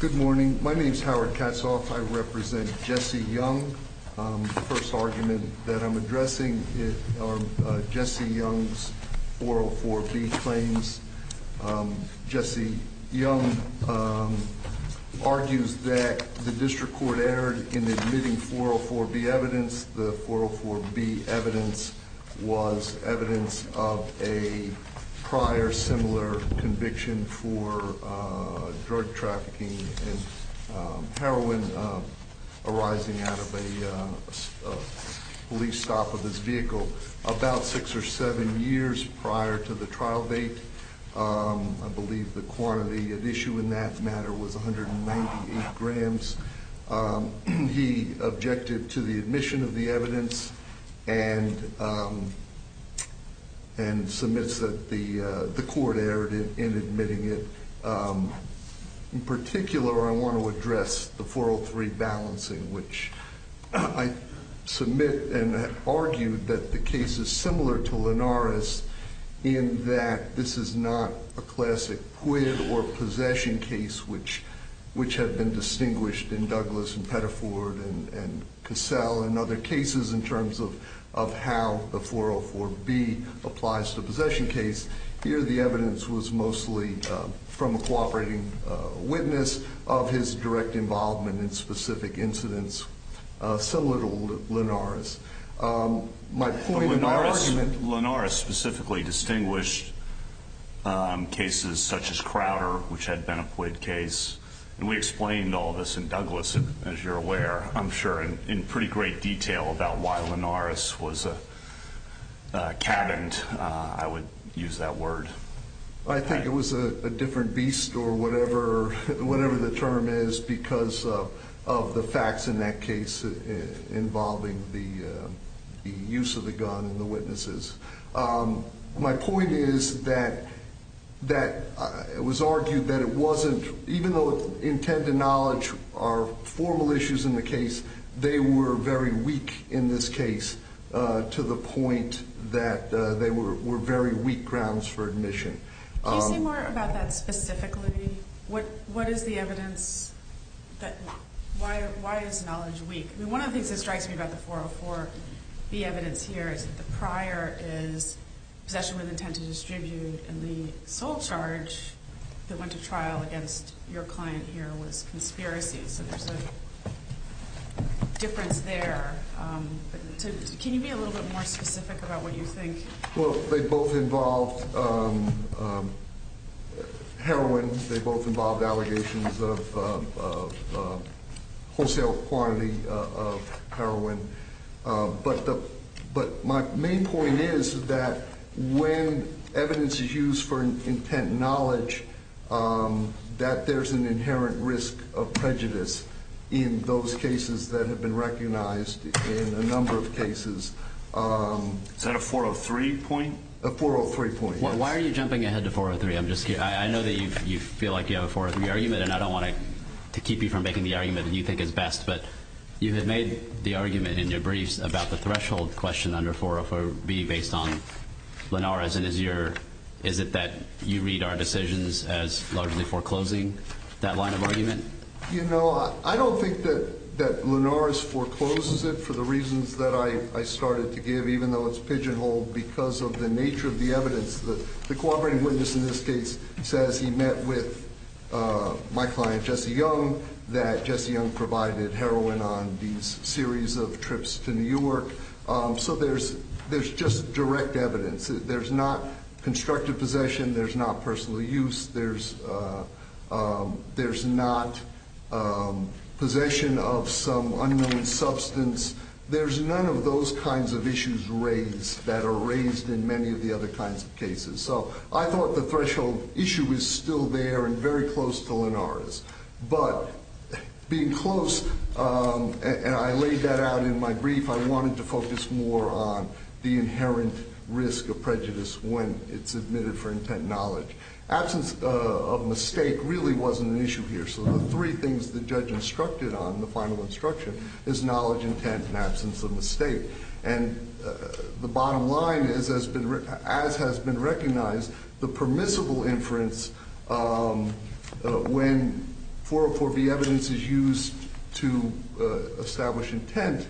Good morning. My name is Howard Katzhoff. I represent Jesse Young. The first argument that I'm addressing is on Jesse Young's 404B claims. Jesse Young argues that the district court erred in admitting 404B evidence. The 404B evidence was evidence of a prior similar conviction for drug trafficking and heroin arising out of a police stop of his vehicle about six or seven years prior to the trial date. I believe the quantity of issue in that matter was 198 grams. He objected to the admission of the evidence and submits that the court erred in admitting it. In particular, I want to address the 403 balancing, which I submit and argue that the case is similar to Linares in that this is not a classic quit or possession case, which have been distinguished in Douglas and Pettiford and Cassell and other cases in terms of how the 404B applies to a possession case. Here, the evidence was mostly from a cooperating witness of his direct involvement in specific incidents similar to Linares. My point in the argument... Jesse Young Linares specifically distinguished cases such as Crowder, which had been a quit case. We explained all this in Douglas, as you're aware, I'm sure, in pretty great detail about why Linares was cabined, I would use that word. I think it was a different beast or whatever the term is because of the facts in that case involving the use of the gun and the witnesses. My point is that it was argued that it wasn't, even though intent and knowledge are formal issues in the case, they were very weak in this case to the point that they were very weak grounds for admission. Can you say more about that specifically? What is the evidence? Why is knowledge weak? One of the things that strikes me about the 404B evidence here is that the prior is possession was intended to distribute and the sole charge that went to trial against your client here was conspiracy. There's a difference there. Can you be a little bit more specific about what you think? They both involved heroin. They both involved allegations of wholesale quantity of heroin. My main point is that when evidence is used for intent and knowledge that there's an inherent risk of prejudice in those cases that have been recognized in a number of cases. Is that a 403 point? A 403 point. Why are you jumping ahead to 403? I'm just kidding. I know that you feel like you have a 403 argument and I don't want to keep you from making the argument that you think is the best, but you had made the argument in your briefs about the threshold question under 404B based on Linares and is it that you read our decisions as largely foreclosing that line of argument? You know, I don't think that Linares forecloses it for the reasons that I started to give even though it's pigeonholed because of the nature of the evidence. The cooperating witness in this case says he met with my client, Jesse Young, that Jesse Young provided heroin on these series of trips to New York. So there's just direct evidence. There's not constructive possession. There's not personal use. There's not possession of some unknown substance. There's none of those kinds of issues raised that are raised in many of the other kinds of cases. So I thought the threshold issue was still there and very close to Linares. But being close, and I laid that out in my brief, I wanted to focus more on the inherent risk of prejudice when it's admitted for intent and knowledge. Absence of mistake really wasn't an issue here. So the three things the judge instructed on, the final instruction, is knowledge, intent, and absence of mistake. And the bottom line, as has been recognized, the permissible inference when 404B evidence is used to establish intent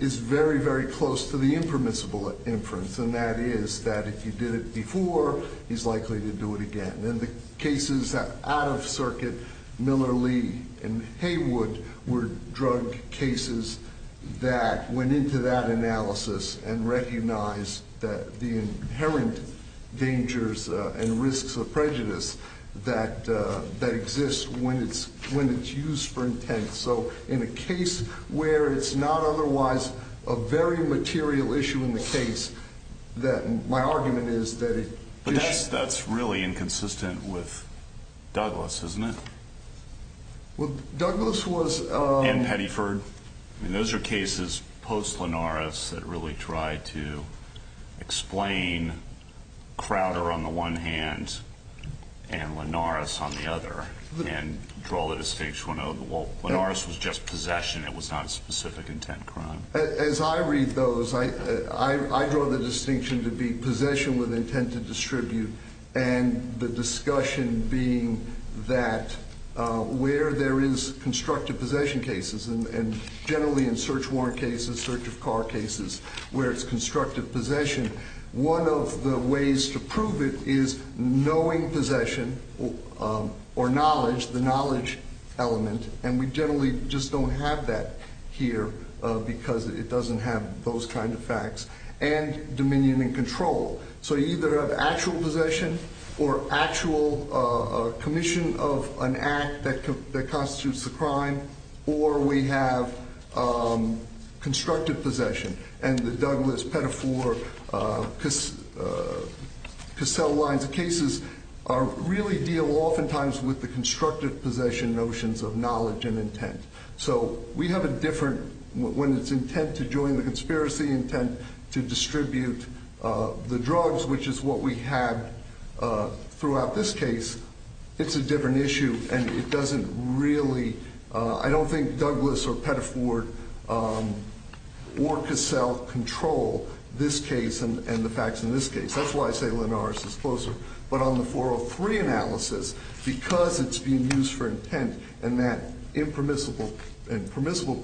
is very, very close to the impermissible inference. And that is that if you did it before, he's likely to do it again. And the cases that out-of-circuit Miller, Lee, and Haywood were drug cases that went into that analysis and recognized the inherent dangers and risks of prejudice that exist when it's used for intent. So in a case where it's not otherwise a very material issue in the case, my argument is that... But that's really inconsistent with Douglas, isn't it? Well, Douglas was... And Pettyford. Those are cases post-Linares that really tried to explain Crowder on the one hand and Linares on the other. And for all those things went over. Well, Linares was just possession. It was not a specific intent crime. As I read those, I draw the distinction to be possession with intent to distribute. And the discussion being that where there is constructive possession cases, and generally in search warrant cases, search of car cases, where it's constructive possession, one of the ways to prove it is knowing possession or knowledge, the knowledge element. And we generally just don't have that here because it doesn't have those kind of facts. And dominion and control. So either actual possession or actual commission of an act that constitutes a crime, or we have constructive possession. And the Douglas, Pettyford, Cassell lines of cases really deal oftentimes with the constructive possession notions of knowledge and intent. So we have a different... When it's intent to join the conspiracy, intent to distribute the drugs, which is what we had throughout this case, it's a different issue. And it doesn't really... I don't think Douglas or Pettyford or Cassell control this case and the facts in this case. That's why I say Linares is closer. But on the 403 analysis, because it's being used for intent, and permissible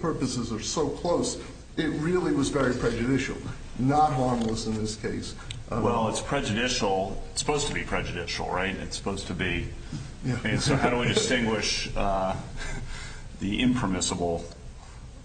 purposes are so close, it really was very prejudicial. Not harmless in this case. Well, it's prejudicial. It's supposed to be prejudicial, right? It's supposed to be. So how do we distinguish the impermissible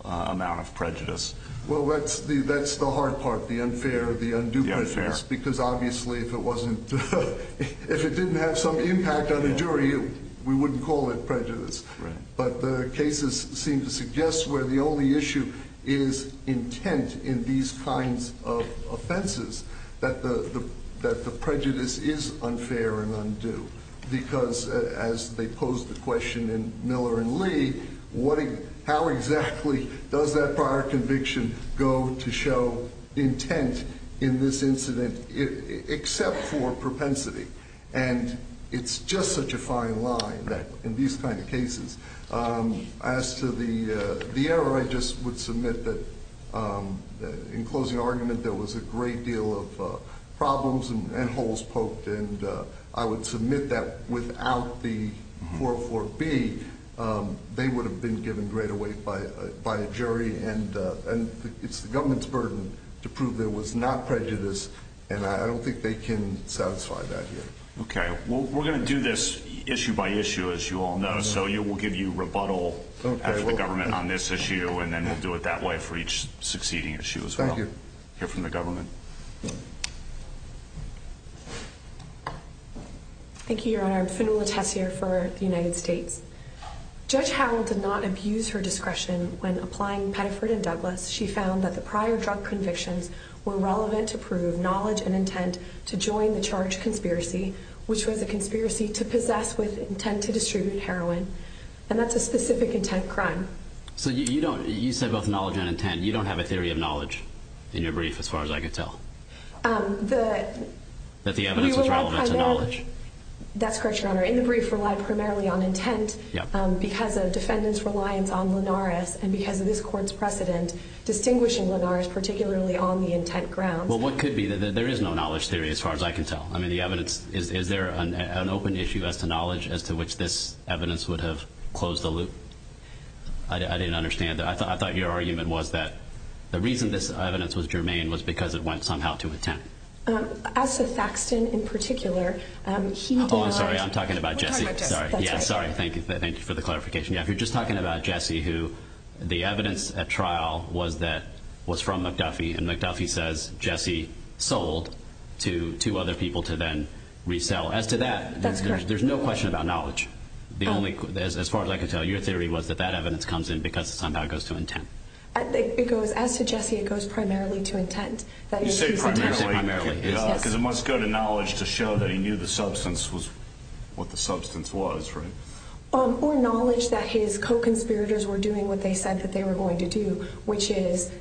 amount of prejudice? Well, that's the hard part, the unfair or the undue prejudice. The unfair. Because obviously if it wasn't... If it didn't have some impact on the jury, we wouldn't call it prejudice. Right. But the cases seem to suggest where the only issue is intent in these kinds of offenses, that the prejudice is unfair and undue. Because as they pose the question in Miller and Lee, how exactly does that prior conviction go to show the intent in this incident except for propensity? And it's just such a fine line that in these kind of cases, as to the error, I just would submit that in closing argument, there was a great deal of problems and holes poked. And I would submit that without the 404B, they would have been given greater weight by a jury. And it's the government's burden to prove there was not prejudice. And I don't think they can satisfy that here. Okay. Well, we're going to do this issue by issue, as you all know. So we'll give you rebuttal as the government on this issue. And then we'll do it that way for each succeeding issue as well. Thank you. Here from the government. Thank you, Your Honor. I'm Sue Latesse here for the United States. Judge Howard did not abuse her discretion when applying Pettiford and Douglas. She found that the prior drug convictions were relevant to prove knowledge and intent to join the charge conspiracy, which was a conspiracy to possess with intent to distribute heroin. And that's a specific intent crime. So you said both knowledge and intent. You don't have a theory of knowledge in your brief, as far as I could tell? That the evidence was relevant to knowledge? That's correct, Your Honor. In the brief, it relied primarily on intent because the defendant's reliance on Linares and because of this court's precedent, distinguishing Linares particularly on the intent ground. Well, what could be? There is no knowledge theory, as far as I can tell. Is there an open issue as to knowledge as to which this evidence would have closed the loop? I didn't understand that. I thought your argument was that the reason this evidence was germane was because it went to intent. As for Saxton in particular, he... Oh, I'm sorry. I'm talking about Jesse. I'm sorry. Yeah, I'm sorry. Thank you for the clarification. Yeah, if you're just talking about Jesse, who the evidence at trial was from McDuffie, and McDuffie says Jesse sold to two other people to then resell. As to that, there's no question about knowledge. As far as I can tell, your theory was that that evidence comes in because it somehow goes to intent. As to Jesse, it goes primarily to intent. You say primarily, because it must go to knowledge to show that he knew the substance was what the substance was, right? Or knowledge that his co-conspirators were doing what they said that they were going to do, which is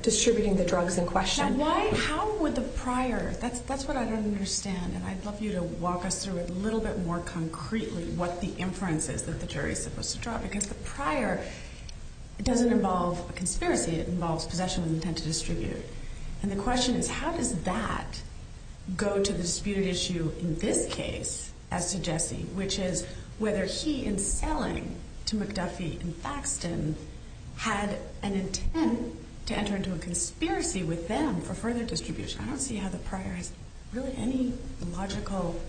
distributing the drugs in question. Now, how would the prior... That's what I don't understand, and I'd love you to walk us through a little bit more concretely what the inference is that the jury's supposed to draw. Because the prior doesn't involve conspiracy. It involves possession of intent to distribute. And the question is, how does that go to the disputed issue in this case, as to Jesse, which is whether he, in selling to McDuffie and Faxton, had an intent to enter into a conspiracy with them for further distribution. I don't see how the prior has really any logical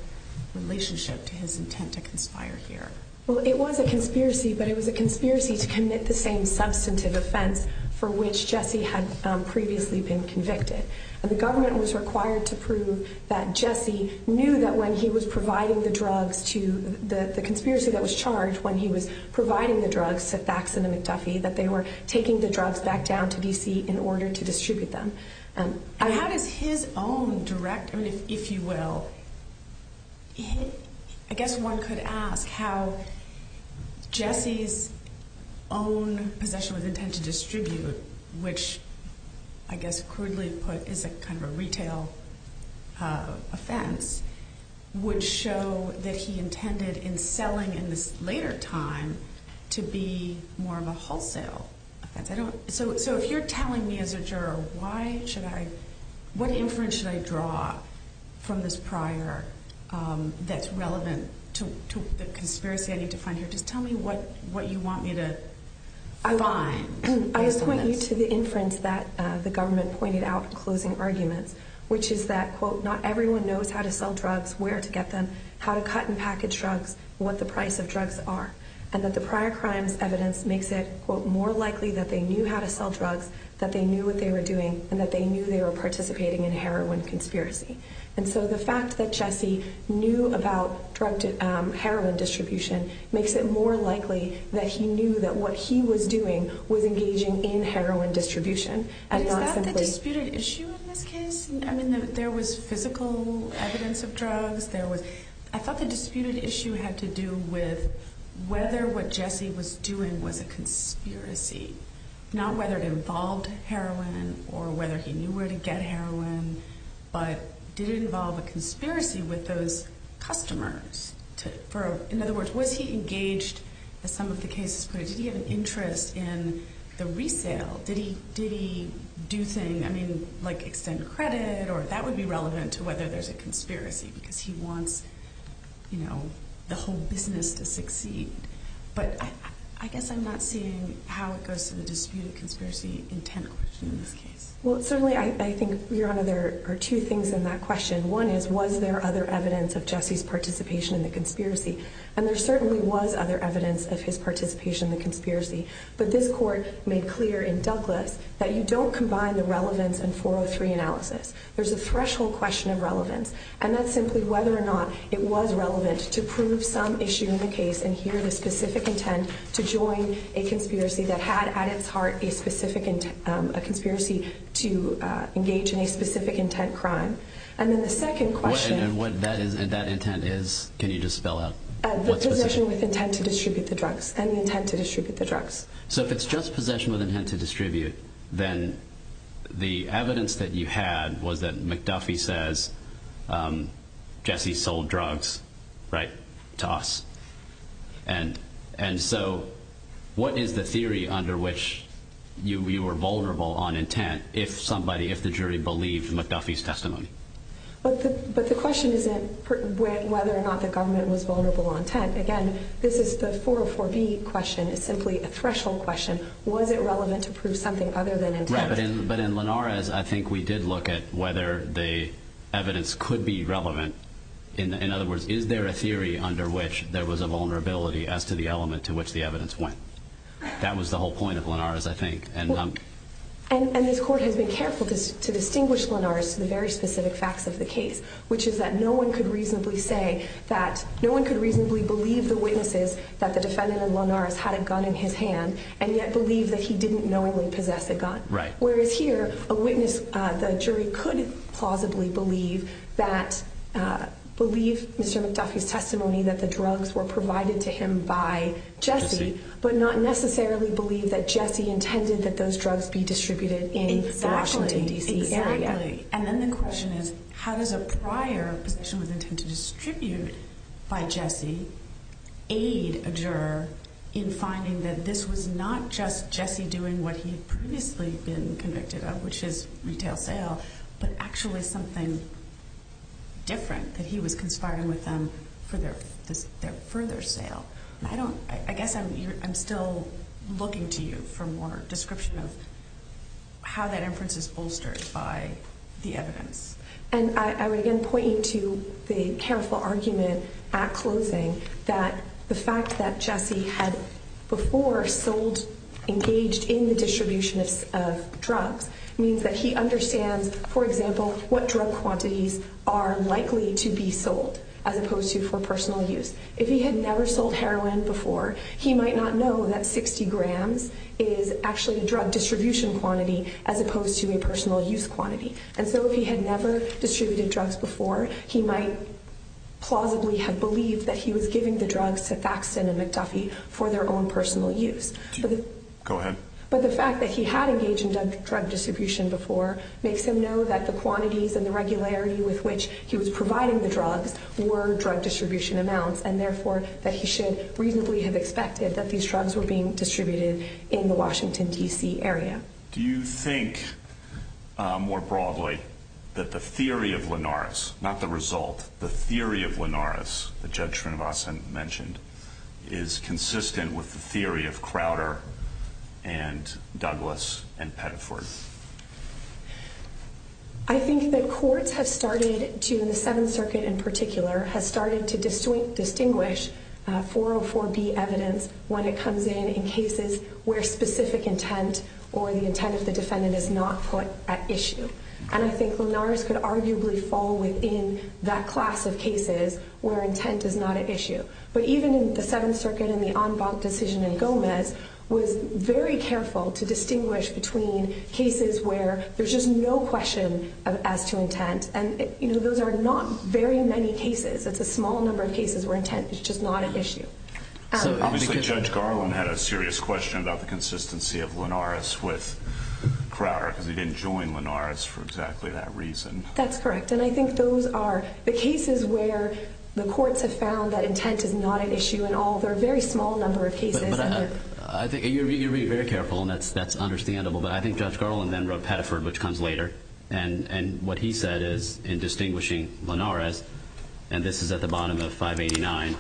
relationship to his intent to conspire here. Well, it was a conspiracy, but it was a conspiracy to commit the same substantive offense for which Jesse had previously been convicted. And the government was required to prove that Jesse knew that when he was providing the drugs to... The conspiracy that was charged when he was providing the drugs to Faxton and McDuffie, that they were taking the drugs back down to D.C. in order to distribute them. And how does his own direct... If you will, I guess one could ask how Jesse's own possession of intent to distribute, which, I guess crudely put, is a kind of a retail offense, would show that he intended in selling in this later time to be more of a wholesale. So if you're telling me as a juror what inference should I draw from this prior that's relevant to the conspiracy I need to find here, just tell me what you want me to draw on. I would point you to the inference that the government pointed out in the closing argument, which is that, quote, not everyone knows how to sell drugs, where to get them, how to cut and package drugs, what the price of drugs are. And that the prior crimes evidence makes it, quote, more likely that they knew how to sell drugs, that they knew what they were doing, and that they knew they were participating in a heroin conspiracy. And so the fact that Jesse knew about heroin distribution makes it more likely that he knew that what he was doing was engaging in heroin distribution and not simply... You thought the disputed issue was with him? I mean, there was physical evidence of drugs, there was... I thought the disputed issue had to do with whether what Jesse was doing was a conspiracy, not whether it involved heroin or whether he knew where to get heroin, but did it involve a conspiracy with those customers? In other words, was he engaged, as some of the cases put it, did he have an interest in the resale? Did he do things, I mean, like extend credit, or that would be relevant to whether there's a disputed conspiracy, because he wants, you know, the whole business to succeed. But I guess I'm not seeing how it goes to the disputed conspiracy intent. Well, certainly I think there are two things in that question. One is, was there other evidence of Jesse's participation in the conspiracy? And there certainly was other evidence of his participation in the conspiracy. But this court made clear in Douglas that you don't combine the relevance and 403 analysis. There's a threshold question of relevance. And that's simply whether or not it was relevant to prove some issue in the case and hear the specific intent to join a conspiracy that had at its heart a specific... a conspiracy to engage in a specific intent crime. And then the second question... And what that intent is, can you just spell out? The possession with intent to distribute the drugs, and the intent to distribute the drugs. So if it's just possession with intent to distribute, then the evidence that you had was that McDuffie says Jesse sold drugs, right, to us. And so what is the theory under which you were vulnerable on intent if somebody, if the jury believed McDuffie's testimony? But the question isn't whether or not the government was vulnerable on intent. Again, this is the 404B question. It's simply a threshold question. Was it relevant to prove something other than intent? Right, but in Linares, I think we did look at whether the evidence could be relevant. In other words, is there a theory under which there was a vulnerability as to the element to which the evidence went? That was the whole point of Linares, I think. And this court has been careful to distinguish Linares from the very specific facts of the case, which is that no one could reasonably say that, no one could reasonably believe the witnesses that the defendant in Linares had a gun in his hand, and yet believe that he didn't normally possess a gun. Whereas here, a witness, the jury could plausibly believe that, believe Mr. McDuffie's testimony that the drugs were provided to him by Jesse, but not necessarily believe that Jesse intended that those drugs be distributed in that way. And then the question is, how does a prior possession of intent to distribute by Jesse aid a juror in finding that this was not just Jesse doing what he'd previously been convicted of, which is retail sale, but actually something different, that he was conspiring with them for their further sale. I don't, I guess I'm still looking to you for more description of how that inference is bolstered by the evidence. And I would again point you to the careful argument at closing that the fact that Jesse had before sold, engaged in the distribution of drugs means that he understands, for example, what drug quantities are likely to be sold, as opposed to for personal use. If he had never sold heroin before, he might not know that 60 grams is actually a drug distribution quantity as opposed to a personal use quantity. And so if he had never distributed drugs before, he might plausibly have believed that he was giving the drugs to Faxon and McDuffie for their own personal use. Go ahead. But the fact that he had engaged in drug distribution before makes him know that the quantities and the regularity with which he was providing the drugs were drug distribution amounts. And therefore, that he should reasonably have expected that these drugs were being distributed in the Washington, D.C. area. Do you think, more broadly, that the theory of Linares, not the result, the theory of Linares, the judgment of Asim mentioned, is consistent with the theory of Crowder and Douglas and Pettiford? I think that courts have started, the Seventh Circuit in particular, have started to distinguish 404B evidence when it comes in in cases where specific intent or the intent of the defendant is not put at issue. And I think Linares could arguably fall within that class of cases where intent is not at issue. in the en banc decision in Gomez, was very careful to distinguish between cases where there's just no question as to intent. And those are not very many cases. It's a small number of cases where intent is just not an issue. Judge Garland had a serious question about the consistency of Linares with Crowder. He didn't join Linares for exactly that reason. That's correct. And I think those are the cases where the courts have found that intent is not an issue at all. Those are a very small number of cases. You're being very careful, and that's understandable. But I think Judge Garland then wrote Pettiford, which comes later, and what he said is, in distinguishing Linares, and this is at the bottom of 589,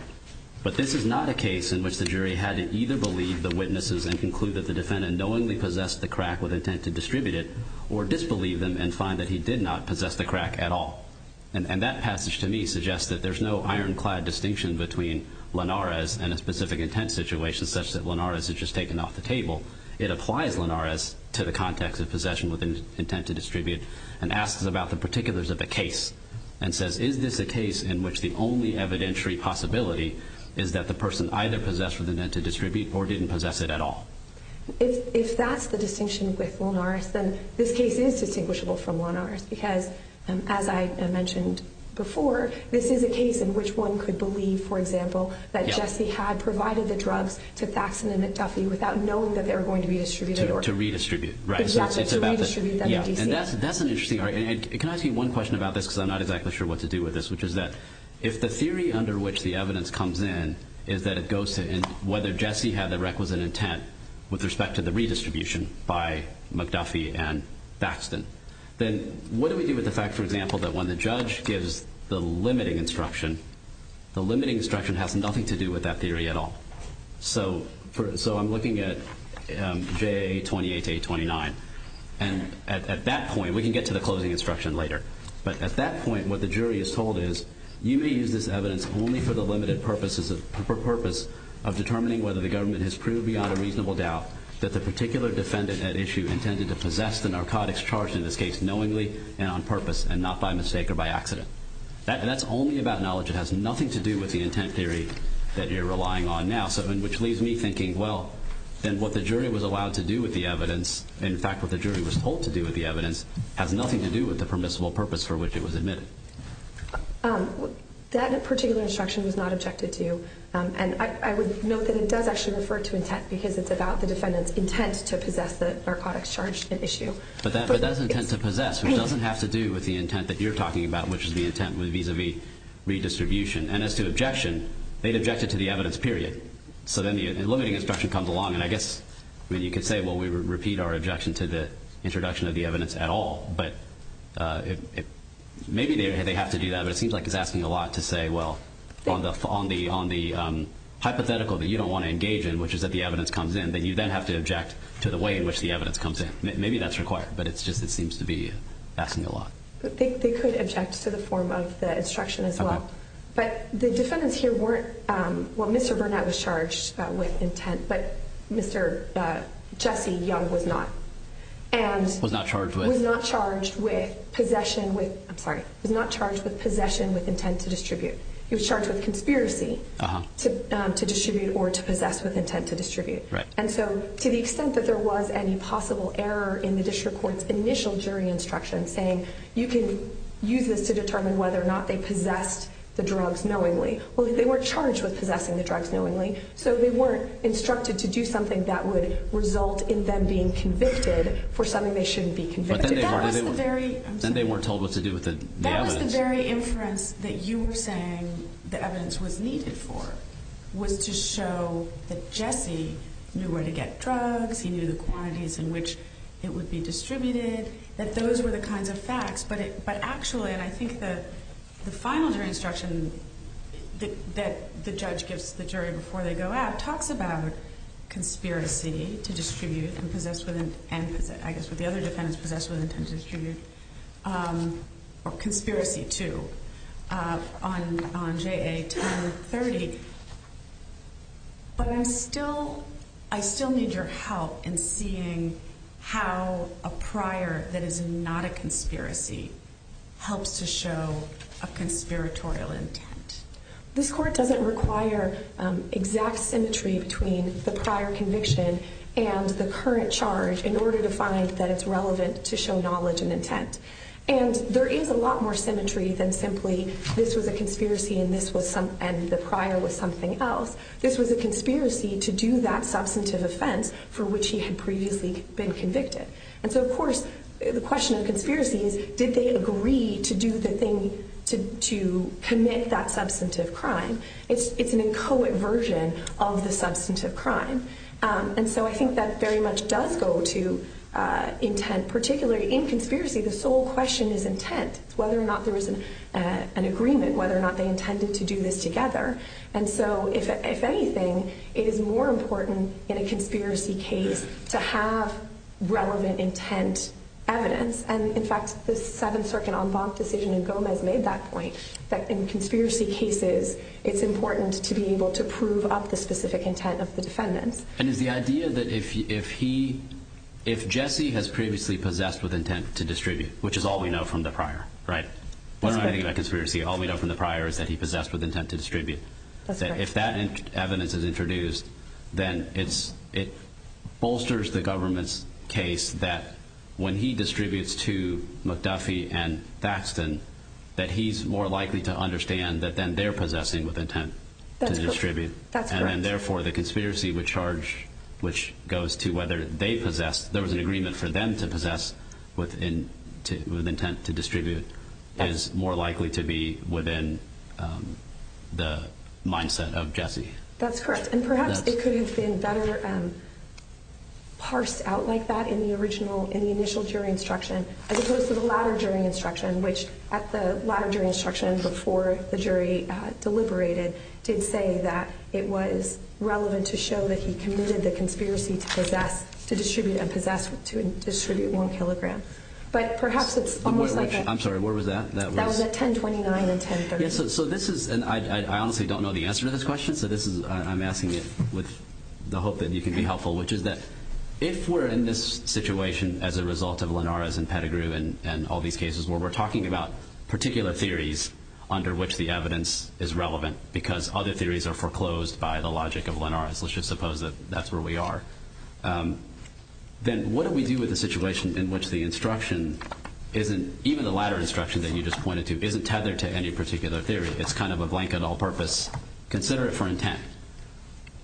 but this is not a case in which the jury had to either believe the witnesses and conclude that the defendant knowingly possessed the crack with intent to distribute it, or disbelieve them and find that he did not possess the crack at all. And that passage to me suggests that there's no ironclad distinction between Linares and a specific intent situation such that Linares is just taken off the table. It applies Linares to the context of possession with intent to distribute and asks about the particulars of the case and says, is this a case in which the only evidentiary possibility is that the person either possessed with intent to distribute or didn't possess it at all? If that's the distinction with Linares, then this case is distinguishable from Linares because, as I mentioned before, this is a case in which one could believe, for example, that Jesse had provided the drugs to Baxton and McDuffie without knowing that they were going to be distributed. To redistribute, right. Exactly, to redistribute them. Yeah, and that's an interesting argument. Can I ask you one question about this because I'm not exactly sure what to do with this, which is that if the theory under which the evidence comes in is that it goes to whether Jesse had the requisite intent with respect to the redistribution by McDuffie and Baxton, then what do we do with the fact, for example, that when the judge gives the limiting instruction, the limiting instruction has nothing to do with that theory at all? So I'm looking at J28 to J29. And at that point, we can get to the closing instruction later, but at that point what the jury is told is, you may use this evidence only for the limited purpose of determining whether the government has proved beyond a reasonable doubt that the particular defendant at issue intended to possess the narcotics charged in this case knowingly and on purpose and not by mistake or by accident. That's only about knowledge. It has nothing to do with the intent theory that you're relying on now, which leaves me thinking, well, then what the jury was allowed to do with the evidence, in fact what the jury was told to do with the evidence, has nothing to do with the permissible purpose for which it was admitted. That particular instruction was not objected to, and I would note that it does actually refer to intent because it's about the defendant's intent to possess the narcotics charged at issue. But that's intent to possess, which doesn't have to do with the intent that you're talking about, which is the intent vis-a-vis redistribution. And as to objection, they've objected to the evidence, period. So then the limiting instruction comes along, and I guess you could say, well, we repeat our objection to the introduction of the evidence at all. But maybe they have to do that, but it seems like it's asking a lot to say, well, on the hypothetical that you don't want to engage in, which is that the evidence comes in, then you then have to object to the way in which the evidence comes in. Maybe that's required, but it seems to be asking a lot. They could object to the form of the instruction as well. But the defendants here weren't – well, Mr. Burnett was charged with intent, but Mr. Jesse Young was not. Was not charged with? Was not charged with possession with – I'm sorry. Was not charged with possession with intent to distribute. He was charged with conspiracy to distribute or to possess with intent to distribute. Right. And so to the extent that there was any possible error in the district court's initial jury instruction saying you can use this to determine whether or not they possessed the drugs knowingly. Well, they weren't charged with possessing the drugs knowingly, so they weren't instructed to do something that would result in them being convicted for something they shouldn't be convicted for. Then they weren't told what to do with the evidence. That was the very imprint that you were saying the evidence was needed for, was to show that Jesse knew where to get drugs, he knew the quantities in which it would be distributed, that those were the kinds of facts. But actually, and I think the final jury instruction that the judge gives to the jury before they go out talks about conspiracy to distribute and possess with intent. I guess the other defendants possessed with intent to distribute. Conspiracy too. I'm on JA term 30, but I still need your help in seeing how a prior that is not a conspiracy helps to show a conspiratorial intent. This court doesn't require exact symmetry between the prior conviction and the current charge in order to find that it's relevant to show knowledge and intent. There is a lot more symmetry than simply, this was a conspiracy and the prior was something else. This was a conspiracy to do that substantive offense for which he had previously been convicted. Of course, the question of conspiracy is, did they agree to do the thing to commit that substantive crime? It's an inchoate version of the substantive crime. I think that very much does go to intent, particularly in conspiracy, the sole question is intent. Whether or not there was an agreement, whether or not they intended to do this together. If anything, it is more important in a conspiracy case to have relevant intent evidence. In fact, the Seventh Circuit on Vaughn's decision in Gomez made that point, that in conspiracy cases, defendant. The idea that if he, if Jesse has previously possessed with intent to distribute, which is all we know from the prior, right? When I think about conspiracy, all we know from the prior is that he possessed with intent to distribute. If that evidence is introduced, then it bolsters the government's case that when he distributes to McDuffie and Baxton, that he's more likely to understand that then they're possessing with intent to distribute. And then therefore the conspiracy would charge, which goes to whether they possessed, there was an agreement for them to possess with intent to distribute, is more likely to be within the mindset of Jesse. That's correct. And perhaps it could have been better parsed out like that in the original, in the initial jury instruction, as opposed to the latter jury instruction, which at the latter jury instruction before the jury deliberated, did say that it was relevant to show that he committed the conspiracy towards that, to distribute and possess, to distribute one kilogram. But perhaps it's. I'm sorry, where was that? That was at 1029 and 1030. So this is, and I honestly don't know the answer to this question. So this is, I'm asking you with the hope that you can be helpful, which is that if we're in this situation as a result of Linares and Pettigrew and all these cases where we're talking about particular theories under which the evidence is relevant, because other theories are foreclosed by the logic of Linares, let's just suppose that that's where we are. Then what do we do with the situation in which the instruction isn't, even the latter instruction that you just pointed to, isn't tethered to any particular theory. It's kind of a blank on all purpose. Consider it for intent.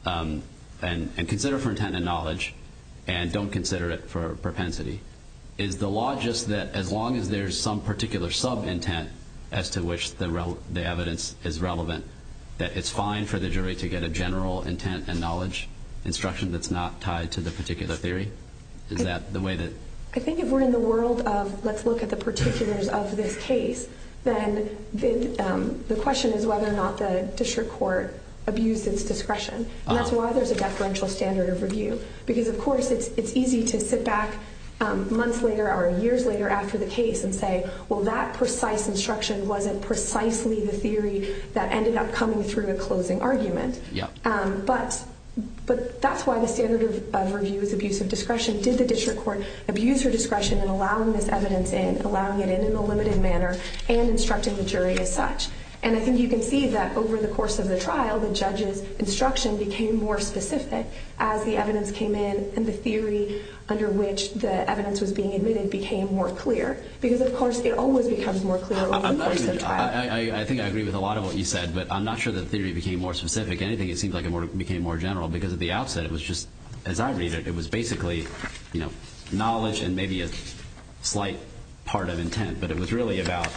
And consider it for intent and knowledge, and don't consider it for propensity. Is the law just that as long as there's some particular sub intent as to which the evidence is relevant, that it's fine for the jury to get a general intent and knowledge instruction that's not tied to the particular theory? I think if we're in the world of, let's look at the particulars of this case, then the question is whether or not the district court abuses discretion. And that's why there's a deferential standard of review. Because, of course, it's easy to sit back months later or years later after the case and say, well, that precise instruction wasn't precisely the theory that ended up coming through a closing argument. But that's why the standard of review is abuse of discretion. Did the district court abuse your discretion in allowing this evidence in, allowing it in in a limited manner and instructing the jury as such? And I think you can see that over the course of the trial, the judge's instruction became more specific as the evidence came in and the theory under which the evidence was being admitted became more clear. Because, of course, it always becomes more clear over the course of the trial. I think I agree with a lot of what you said, but I'm not sure the theory became more specific than anything. It seems like it became more general because at the outset it was just, as I read it, it was basically, you know, knowledge and maybe a slight part of intent. But it was really about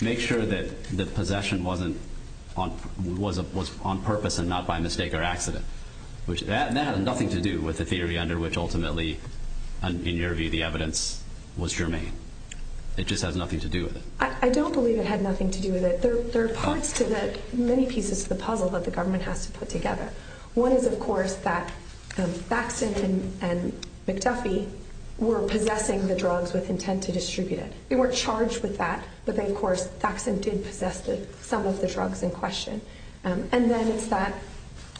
make sure that the possession wasn't, was on purpose and not by mistake or accident. That has nothing to do with the theory under which ultimately, in your view, the evidence was germane. It just had nothing to do with it. I don't believe it had nothing to do with it. There are parts to this, many pieces to the puzzle that the government has to put together. One is, of course, that Saxon and McTuffy were possessing the drugs with intent to distribute it. They were charged with that, but then, of course, Saxon did possess some of the drugs in question. And then, in fact,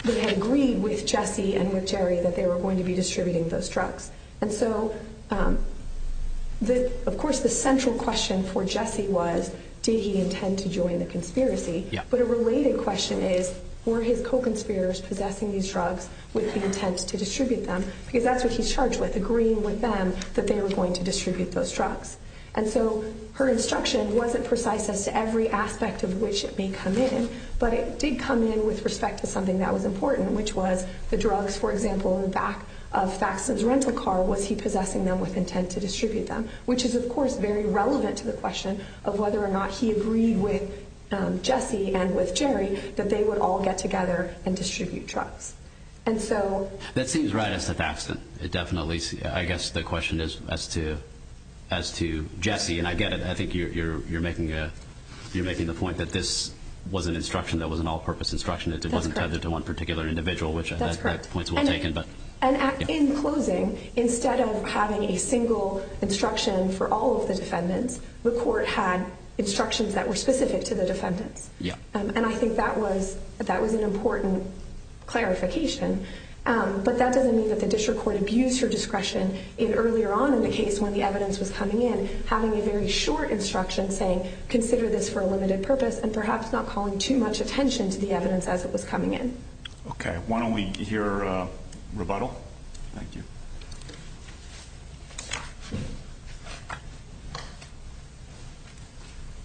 they agreed with Jesse and with Jerry that they were going to be distributing those drugs. And so, of course, the central question for Jesse was, did he intend to join the conspiracy? But a related question is, were his co-conspirators possessing these drugs with the intent to distribute them? Because that's what he's charged with, agreeing with them that they were going to distribute those drugs. And so her instruction wasn't precise as to every aspect of which it may come in, but it did come in with respect to something that was important, which was the drugs, for example, in the back of Saxon's rental car, was he possessing them with intent to distribute them? Which is, of course, very relevant to the question of whether or not he agreed with Jesse and with Jerry that they would all get together and distribute drugs. And so— That seems right as to Saxon. It definitely—I guess the question is as to Jesse, and I get it. I think you're making the point that this was an instruction that was an all-purpose instruction that wasn't tethered to one particular individual. That's correct. And in closing, instead of having a single instruction for all of the defendants, the court had instructions that were specific to the defendants. And I think that was an important clarification. But that doesn't mean that the district court abused her discretion in earlier on in the case when the evidence was coming in, having a very short instruction saying, consider this for a limited purpose, and perhaps not calling too much attention to the evidence as it was coming in. Okay. Why don't we hear a rebuttal? Thank you.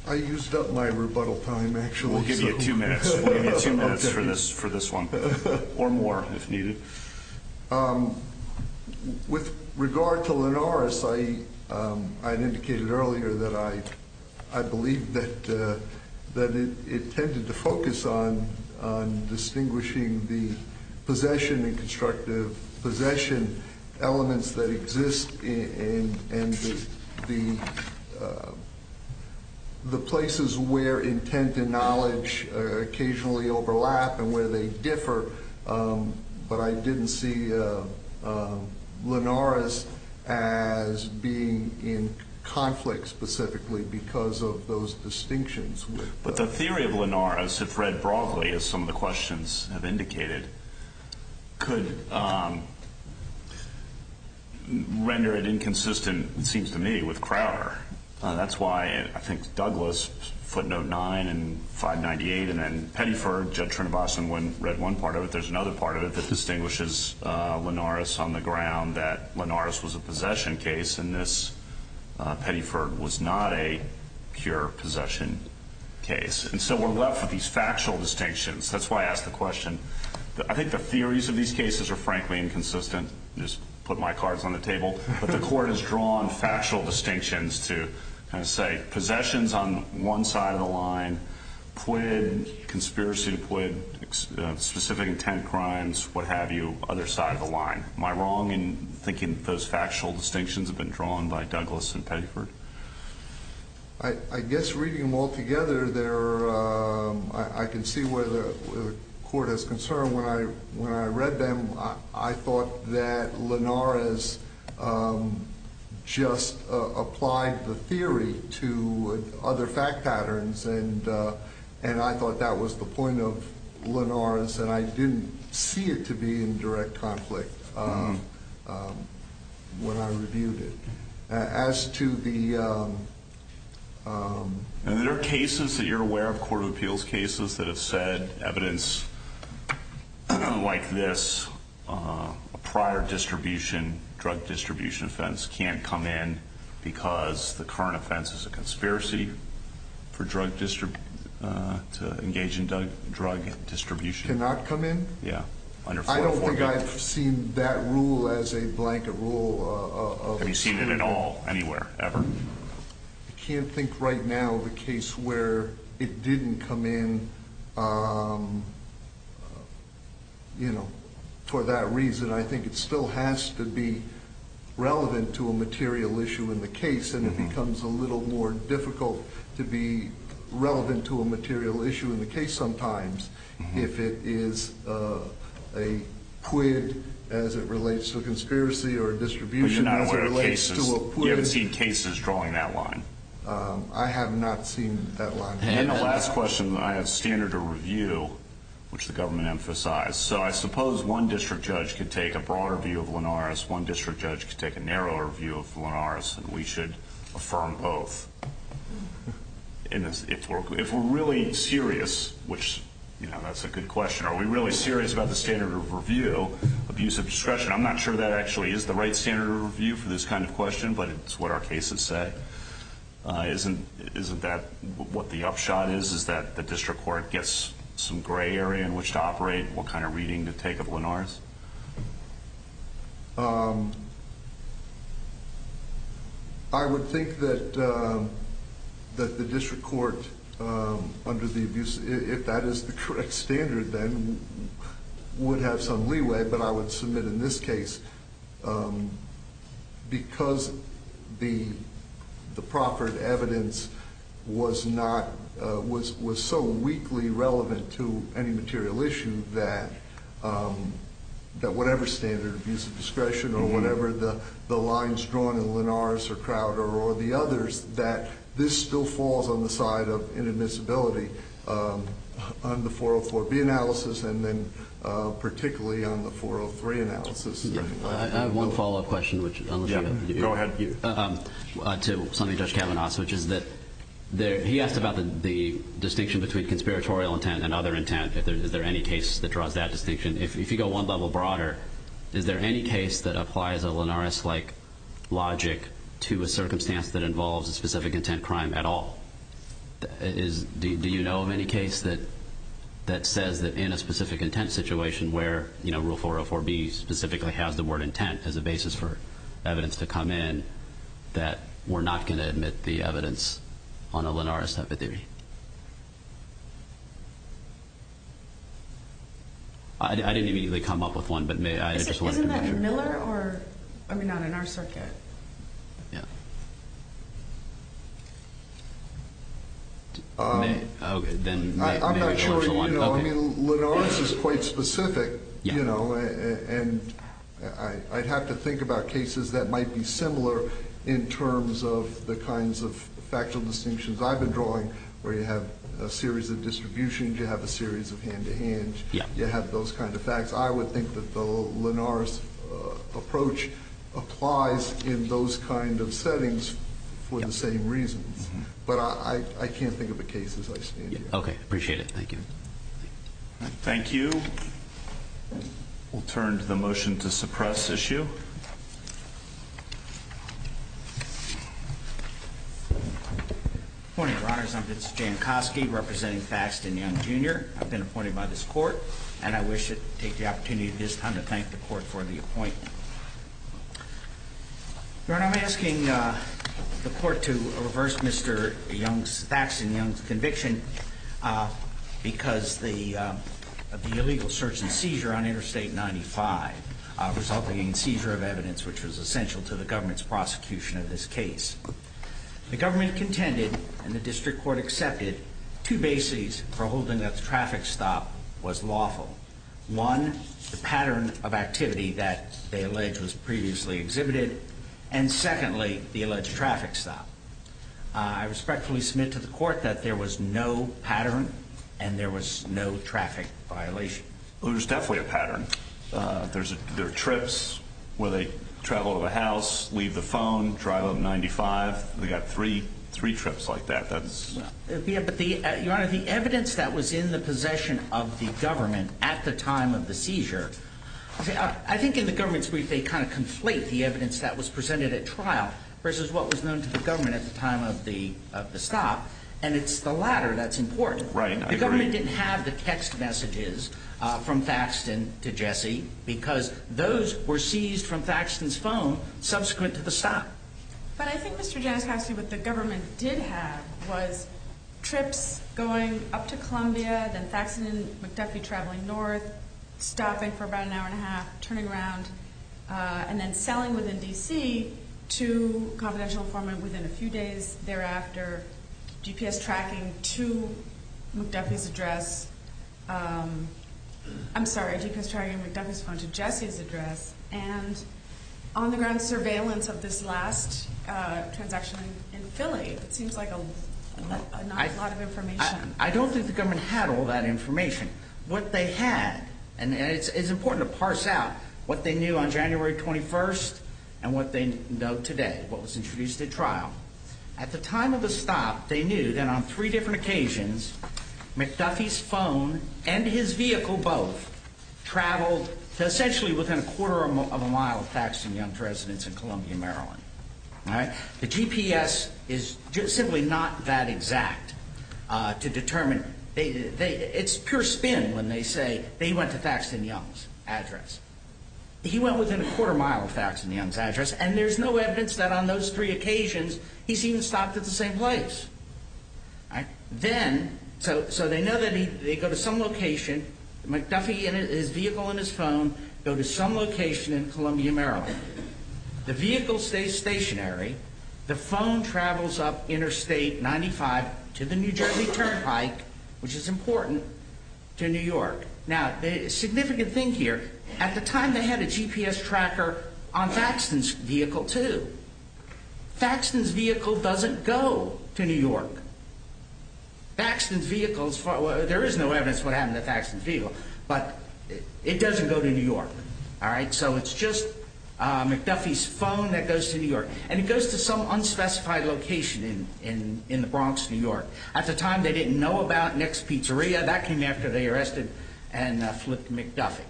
I used up my rebuttal time, actually. We'll give you two minutes. We'll give you two minutes for this one, or more if needed. With regard to Lenoris, I indicated earlier that I believe that it tended to focus on distinguishing the possession and constructive possession elements that exist in the places where intent and knowledge occasionally overlap and where they differ, but I didn't see Lenoris as being in conflict specifically because of those distinctions. But the theory of Lenoris, if read broadly, as some of the questions have indicated, could render it inconsistent, it seems to me, with Crowder. That's why I think Douglas put Note 9 and 598, and then Pettyford, Judge Trinvasan, when read one part of it, there's another part of it that distinguishes Lenoris on the ground, that Lenoris was a possession case and this Pettyford was not a pure possession case. And so we're left with these factual distinctions. That's why I asked the question. I think the theories of these cases are frankly inconsistent. I just put my cards on the table. The court has drawn factual distinctions to say possessions on one side of the line, quid, conspiracy to quid, specific intent crimes, what have you, other side of the line. Am I wrong in thinking those factual distinctions have been drawn by Douglas and Pettyford? I guess reading them all together, I can see where the court is concerned. When I read them, I thought that Lenoris just applied the theory to other fact patterns, and I thought that was the point of Lenoris, and I didn't see it to be in direct conflict when I reviewed it. Are there cases that you're aware of, court of appeals cases, that have said evidence like this, a prior distribution, drug distribution offense, can't come in because the current offense is a conspiracy to engage in drug distribution? Cannot come in? Yeah. I don't think I've seen that rule as a blanket rule. Have you seen it at all, anywhere, ever? I can't think right now of a case where it didn't come in for that reason. I think it still has to be relevant to a material issue in the case, and it becomes a little more difficult to be relevant to a material issue in the case sometimes if it is a quid as it relates to a conspiracy or a distribution as it relates to a quid. Have you seen cases drawing that line? I have not seen that line. And the last question, I have standard of review, which the government emphasized, so I suppose one district judge could take a broader view of Lenoris, one district judge could take a narrower view of Lenoris, and we should affirm both. If we're really serious, which, you know, that's a good question, are we really serious about the standard of review of use of discretion? I'm not sure that actually is the right standard of review for this kind of question, but it's what our case has said. Isn't that what the upshot is, is that the district court gets some gray area in which to operate? What kind of reading to take of Lenoris? I would think that the district court under the abuse, if that is the correct standard then, would have some leeway, but I would submit in this case, because the proffered evidence was so weakly relevant to any material issue that whatever standard of use of discretion or whatever the lines drawn in Lenoris or Crowder or the others, that this still falls on the side of inadmissibility on the 404B analysis and then particularly on the 403 analysis. I have one follow-up question to something Judge Kavanaugh suggested. He asked about the distinction between conspiratorial intent and other intent. Is there any case that draws that distinction? If you go one level broader, is there any case that applies a Lenoris-like logic to a circumstance that involves a specific intent crime at all? Do you know of any case that says that in a specific intent situation where Rule 404B specifically has the word intent as a basis for evidence to come in, that we're not going to admit the evidence on a Lenoris epithet? I didn't immediately come up with one, but I just wanted to know. Is it Miller or, I mean, on our circuit? Yeah. I'm not sure, you know, Lenoris is quite specific, you know, and I'd have to think about cases that might be similar in terms of the kinds of factual distinctions I've been drawing where you have a series of distributions, you have a series of hand-to-hands, you have those kind of facts. I would think that the Lenoris approach applies in those kind of settings for the same reason, but I can't think of a case as I speak. Okay. Appreciate it. Thank you. Thank you. We'll turn to the motion to suppress issue. Good morning, Your Honors. I'm Vincent Jankowski representing Faxton Young, Jr. I've been appointed by this Court, and I wish to take the opportunity at this time to thank the Court for the appointment. Your Honor, I'm asking the Court to reverse Mr. Young's, Mr. Faxton Young's conviction because of the illegal search and seizure on Interstate 95, resulting in seizure of evidence which was essential to the government's prosecution of this case. The government contended, and the district court accepted, two bases for holding a traffic stop was lawful. One, the pattern of activity that they alleged was previously exhibited, and secondly, the alleged traffic stop. I respectfully submit to the Court that there was no pattern and there was no traffic violation. There was definitely a pattern. There are trips where they travel to the house, leave the phone, drive up 95. We've got three trips like that. Your Honor, the evidence that was in the possession of the government at the time of the seizure, I think in the government's brief they kind of conflate the evidence that was presented at trial versus what was known to the government at the time of the stop, and it's the latter that's important. Right. The government didn't have the text messages from Faxton to Jesse because those were seized from Faxton's phone subsequent to the stop. But I think, Mr. Giannopoulos, what the government did have was trips going up to Columbia, then Faxton and Jesse traveling north, stopping for about an hour and a half, turning around, and then sailing within D.C. to confidential informant within a few days thereafter, GPS tracking to Jeffy's address, and on-the-ground surveillance of this last transaction in Philly. It seems like not a lot of information. I don't think the government had all that information. What they had, and it's important to parse out what they knew on January 21st and what they know today, what was introduced at trial. At the time of the stop, they knew that on three different occasions, Mr. Duffy's phone and his vehicle both traveled to essentially within a quarter of a mile of Faxton Young's residence in Columbia, Maryland. All right. The GPS is simply not that exact to determine. It's pure spin when they say they went to Faxton Young's address. He went within a quarter of a mile of Faxton Young's address, and there's no evidence that on those three occasions he's even stopped at the same place. All right. Then, so they know that they go to some location. Duffy and his vehicle and his phone go to some location in Columbia, Maryland. The vehicle stays stationary. The phone travels up Interstate 95 to the New Jersey Turnpike, which is important, to New York. Now, the significant thing here, at the time they had a GPS tracker on Faxton's vehicle, too. Faxton's vehicle doesn't go to New York. There is no evidence of what happened to Faxton's vehicle, but it doesn't go to New York. All right. So it's just McDuffie's phone that goes to New York. And it goes to some unspecified location in the Bronx, New York. At the time, they didn't know about Nick's Pizzeria. That came after they arrested and flipped McDuffie.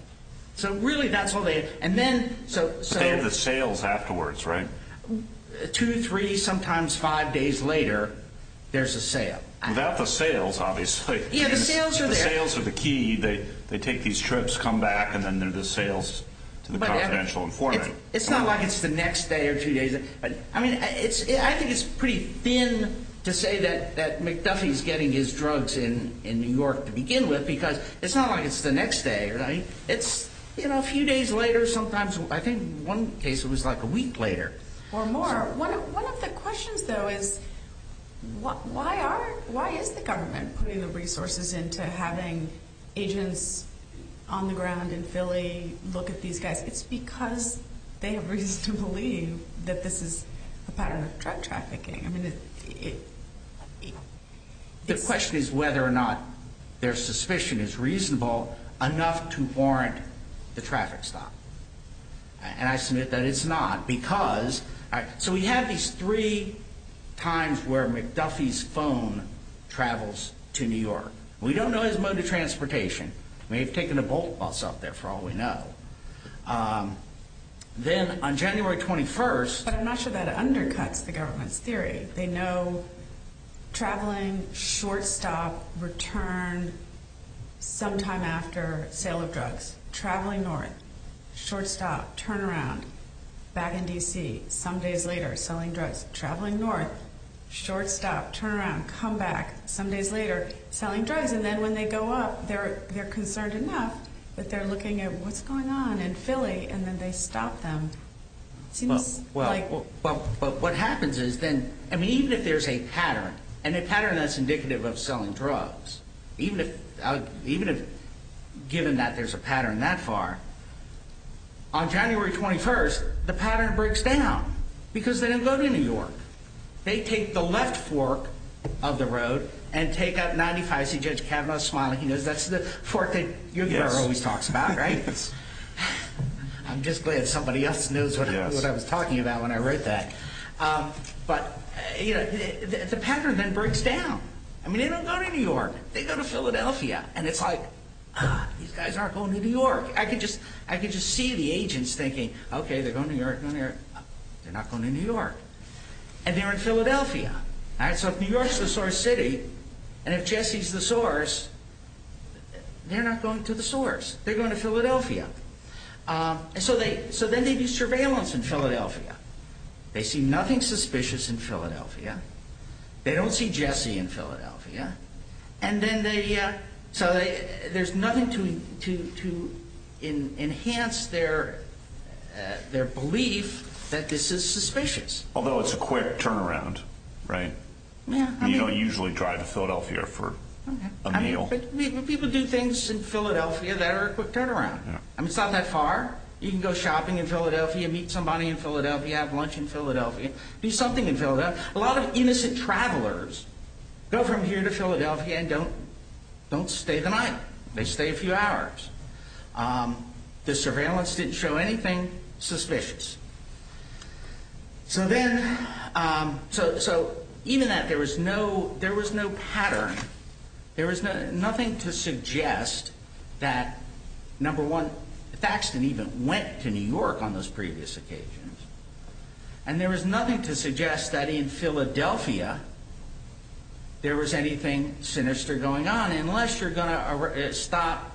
So, really, that's what they did. But they have the sales afterwards, right? Two, three, sometimes five days later, there's a sale. Without the sales, obviously. Yeah, the sales are there. They take these trips, come back, and then there's the sales to the confidential informant. It's not like it's the next day or two days. I mean, I think it's pretty thin to say that McDuffie's getting his drugs in New York to begin with because it's not like it's the next day, right? It's a few days later sometimes. I think in one case it was like a week later. Or more. One of the questions, though, is why is the government putting the resources into having agents on the ground in Philly look at these guys? It's because they really do believe that this is a pattern of drug trafficking. The question is whether or not their suspicion is reasonable enough to warrant the traffic stop. And I submit that it's not. So we have these three times where McDuffie's phone travels to New York. We don't know his mode of transportation. We have taken a bulk bus up there for all we know. Then on January 21st. But I'm not sure that undercuts the government's theory. They know traveling, short stop, return, sometime after sale of drugs. Traveling north, short stop, turn around, back in D.C., some days later, selling drugs. Traveling north, short stop, turn around, come back, some days later, selling drugs. And then when they go up, they're concerned enough that they're looking at what's going on in Philly, and then they stop them. Well, what happens is then, I mean, even if there's a pattern, and a pattern that's indicative of selling drugs, even if, given that there's a pattern that far, on January 21st, the pattern breaks down. Because they didn't go to New York. They take the left fork of the road and take up 95th Street, Judge Kavanaugh's spot. He knows that's the fork that your guy always talks about, right? I'm just glad somebody else knows what I was talking about when I wrote that. But, you know, the pattern then breaks down. I mean, they don't go to New York. They go to Philadelphia. And it's like, these guys aren't going to New York. I can just see the agents thinking, okay, they're going to New York, going to New York. They're not going to New York. And they're in Philadelphia. So if New York's the source city, and if Jesse's the source, they're not going to the source. They're going to Philadelphia. So then they do surveillance in Philadelphia. They see nothing suspicious in Philadelphia. They don't see Jesse in Philadelphia. And then they, so there's nothing to enhance their belief that this is suspicious. Although it's a quick turnaround, right? You don't usually drive to Philadelphia for a meal. But people do things in Philadelphia that are a quick turnaround. It's not that far. You can go shopping in Philadelphia, meet somebody in Philadelphia, have lunch in Philadelphia, do something in Philadelphia. A lot of innocent travelers go from here to Philadelphia and don't stay the night. They stay a few hours. The surveillance didn't show anything suspicious. So then, so even that there was no pattern, there was nothing to suggest that, number one, Faxton even went to New York on those previous occasions. And there was nothing to suggest that in Philadelphia there was anything sinister going on. Unless you're going to stop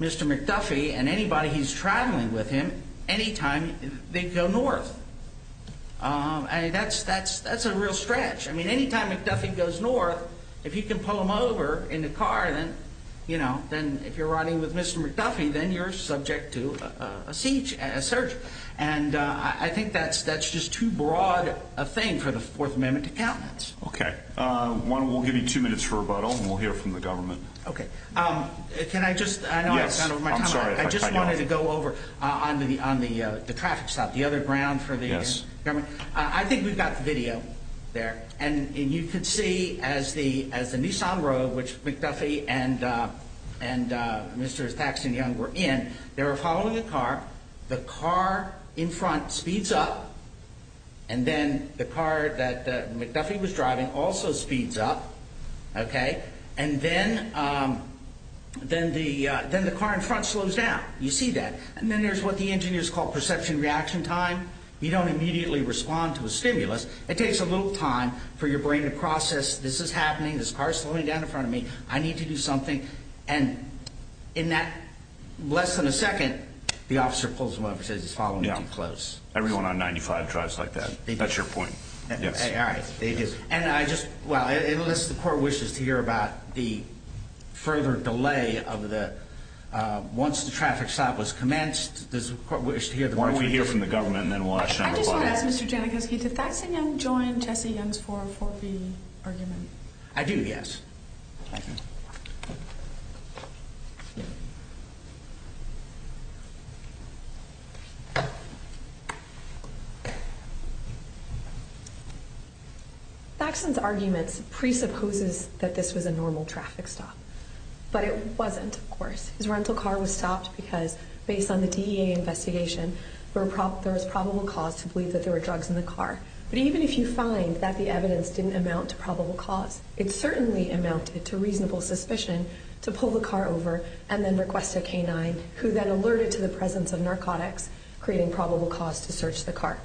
Mr. McDuffie and anybody who's traveling with him anytime they go north. And that's a real stretch. I mean, anytime McDuffie goes north, if you can pull him over in the car, then, you know, then if you're riding with Mr. McDuffie, then you're subject to a search. And I think that's just too broad a thing for the Fourth Amendment to count as. Okay. Juan, we'll give you two minutes for rebuttal and we'll hear from the government. Okay. Can I just? Yes. I'm sorry. I just wanted to go over on the traffic stop, the other ground for the government. I think we've got the video there. And you can see as the Nissan Road, which McDuffie and Mr. Faxton Young were in, they were following the car. The car in front speeds up. And then the car that McDuffie was driving also speeds up. Okay. And then the car in front slows down. You see that. And then there's what the engineers call perception reaction time. You don't immediately respond to a stimulus. It takes a little time for your brain to process this is happening, this car is slowing down in front of me, I need to do something. And in that less than a second, the officer pulls him up and says, he's following me too close. Everyone on 95 drives like that. That's your point. All right. And I just, well, unless the court wishes to hear about the further delay of the, once the traffic stop was commenced, does the court wish to hear from the government? Why don't we hear from the government and then we'll ask you on the floor. Mr. Jankowski, did Faxton Young join Jesse Young's 440 argument? I do, yes. Thank you. Faxton's argument presupposes that this was a normal traffic stop. But it wasn't, of course. His rental car was stopped because based on the DEA investigation, there was probable cause to believe that there were drugs in the car. But even if you find that the evidence didn't amount to probable cause, it certainly amounted to reasonable suspicion to pull the car over and then request a canine, who then alerted to the presence of narcotics, creating probable cause to search the car.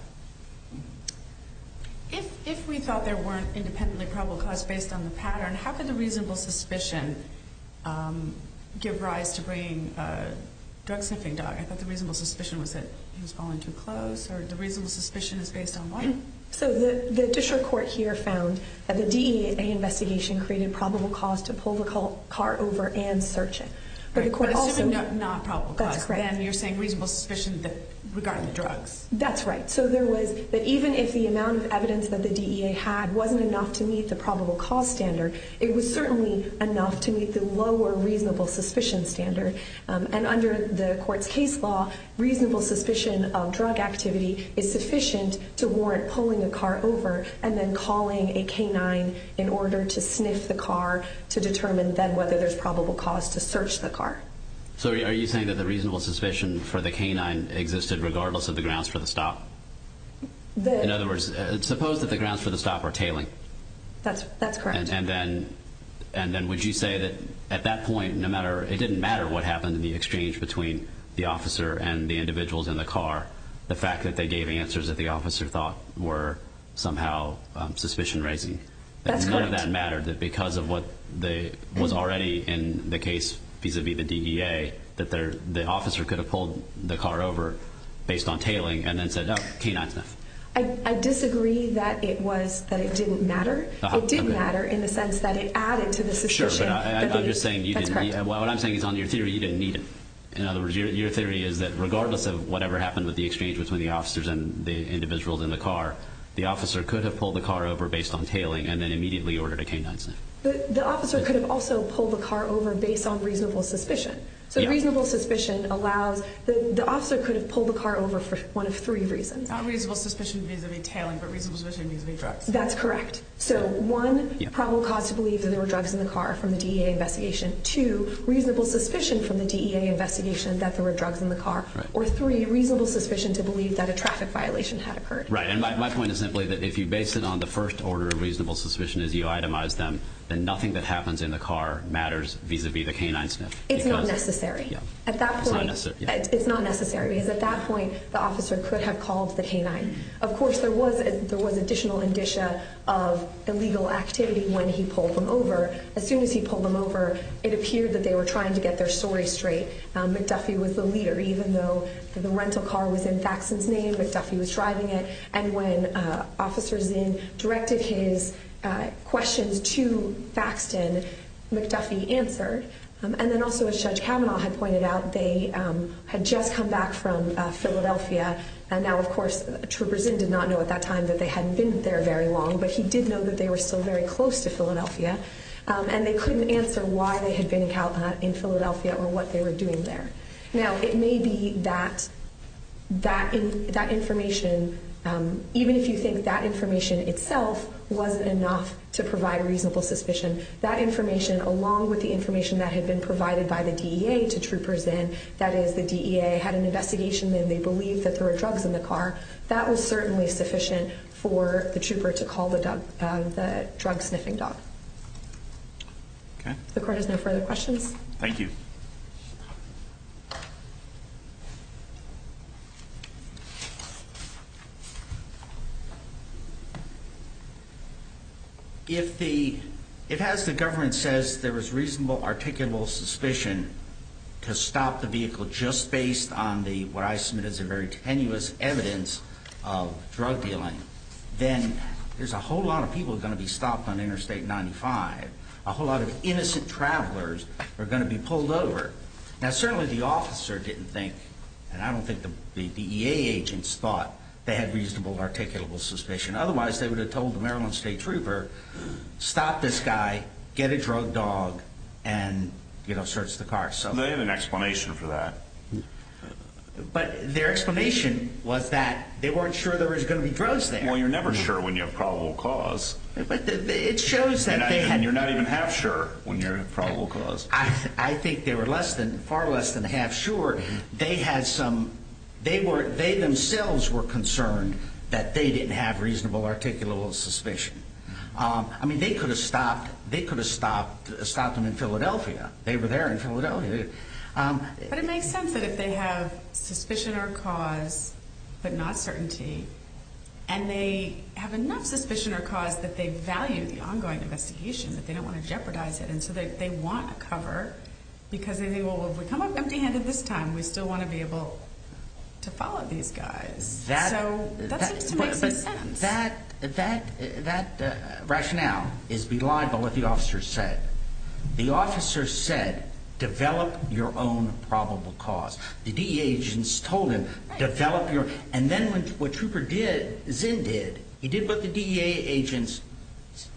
If we thought there weren't independently probable cause based on the pattern, how could a reasonable suspicion give rise to bringing drugs in the same dog? Is that the reasonable suspicion was that he was following too close? Sorry, the reasonable suspicion is based on what? So the district court here found that the DEA investigation created probable cause to pull the car over and search it. But it's not probable cause. Then you're saying reasonable suspicion regarding drugs. That's right. So there was that even if the amount of evidence that the DEA had wasn't enough to meet the probable cause standard, it was certainly enough to meet the lower reasonable suspicion standard. And under the court's case law, reasonable suspicion of drug activity is sufficient to warrant pulling the car over and then calling a canine in order to dismiss the car to determine then whether there's probable cause to search the car. So are you saying that the reasonable suspicion for the canine existed regardless of the grounds for the stop? In other words, suppose that the grounds for the stop are tailing. That's correct. And then would you say that at that point, it didn't matter what happened in the exchange between the officer and the individuals in the car, the fact that they gave answers that the officer thought were somehow suspicion-raising. That's correct. None of that mattered because of what was already in the case vis-à-vis the DEA, that the officer could have pulled the car over based on tailing and then said, oh, canine. I disagree that it didn't matter. It did matter in the sense that it added to the suspicion. Sure. What I'm saying is on your theory, you didn't need it. In other words, your theory is that regardless of whatever happened with the exchange between the officers and the individuals in the car, the officer could have pulled the car over based on tailing and then immediately ordered a canine. The officer could have also pulled the car over based on reasonable suspicion. So reasonable suspicion allowed the officer could have pulled the car over for one of three reasons. Not reasonable suspicion vis-à-vis tailing, but reasonable suspicion vis-à-vis drugs. That's correct. So one, probable cause to believe that there were drugs in the car from the DEA investigation. Two, reasonable suspicion from the DEA investigation that there were drugs in the car. Right. Or three, reasonable suspicion to believe that a traffic violation had occurred. Right. And my point is simply that if you base it on the first order of reasonable suspicion as you itemize them, then nothing that happens in the car matters vis-à-vis the canine sniff. It's not necessary. Yeah. It's not necessary. It's not necessary because at that point the officer could have called the canine. Of course, there was additional indicia of illegal activity when he pulled them over. As soon as he pulled them over, it appeared that they were trying to get their story straight. McDuffie was the leader. Even though the rental car was in Faxton's name, McDuffie was driving it. And when officers then directed his questions to Faxton, McDuffie answered. And then also, as Judge Kavanaugh had pointed out, they had just come back from Philadelphia and now, of course, Troopers Inn did not know at that time that they hadn't been there very long, but he did know that they were still very close to Philadelphia. And they couldn't answer why they had been in Philadelphia or what they were doing there. Now, it may be that that information, even if you think that information itself was enough to provide reasonable suspicion, that information along with the information that had been provided by the DEA to Troopers Inn, that is, the DEA had an investigation and they believed that there were drugs in the car, that was certainly sufficient for the Trooper to call the drug-sniffing dog. Okay. If the Court has no further questions. Thank you. If the ‑‑ it has the government says there was reasonable, articulable suspicion to stop the vehicle just based on what I submit as a very tenuous evidence of drug dealing, then there's a whole lot of people that are going to be stopped on Interstate 95, a whole lot of innocent travelers are going to be pulled over. Now, certainly the officer didn't think, and I don't think the DEA agents thought, they had reasonable, articulable suspicion. Otherwise, they would have told the Maryland State Trooper, stop this guy, get a drug dog, and, you know, search the car. They have an explanation for that. But their explanation was that they weren't sure there was going to be drugs there. Well, you're never sure when you have probable cause. It shows that they had ‑‑ And you're not even half sure when you're in probable cause. I think they were far less than half sure. They had some ‑‑ they themselves were concerned that they didn't have reasonable, articulable suspicion. I mean, they could have stopped them in Philadelphia. They were there in Philadelphia. But it makes sense that if they have suspicion or cause but not certainty, and they have enough suspicion or cause that they value the ongoing investigation, that they don't want to jeopardize it until they want cover, because then they will have become as empty-handed as this time. We still want to be able to follow these guys. So, that makes sense. But that rationale is believable, what the officer said. The officer said, develop your own probable cause. The DEA agents told him, develop your ‑‑ And then what Trooper did, Zinn did, he did what the DEA agents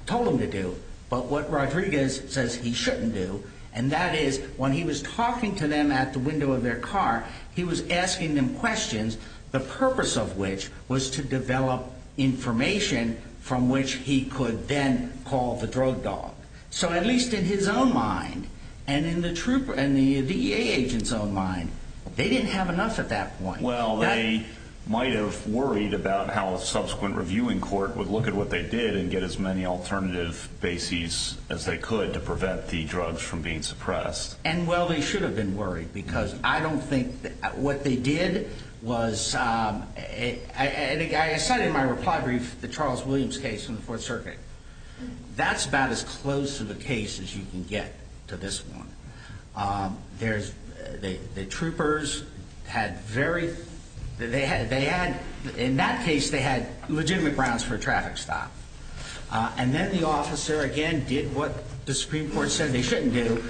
told him to do, but what Rodriguez says he shouldn't do, and that is when he was talking to them at the window of their car, he was asking them questions, the purpose of which was to develop information from which he could then call the drug dog. So, at least in his own mind, and in the DEA agent's own mind, they didn't have enough at that point. Well, they might have worried about how a subsequent reviewing court would look at what they did and get as many alternative bases as they could to prevent the drugs from being suppressed. And, well, they should have been worried, because I don't think ‑‑ what they did was ‑‑ I cited in my reply brief the Charles Williams case in the Fourth Circuit. That's about as close to the case as you can get to this one. There's ‑‑ the troopers had very ‑‑ they had, in that case, they had legitimate grounds for a traffic stop. And then the officer, again, did what the Supreme Court said they shouldn't do.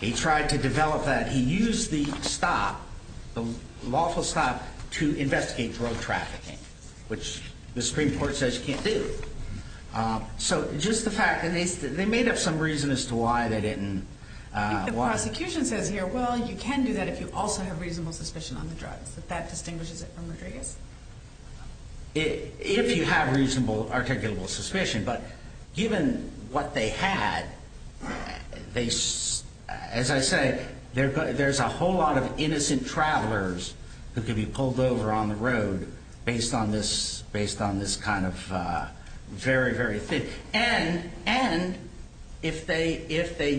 He tried to develop that. He used the stop, the lawful stop, to investigate drug trafficking, which the Supreme Court says you can't do. So, just the fact ‑‑ and they made up some reason as to why they didn't. But the prosecution says here, well, you can do that if you also have reasonable suspicion on the drug. If that distinguishes it from the drug. If you have reasonable articulable suspicion. But given what they had, as I say, there's a whole lot of innocent travelers that could be pulled over on the road based on this kind of very, very thick. And if they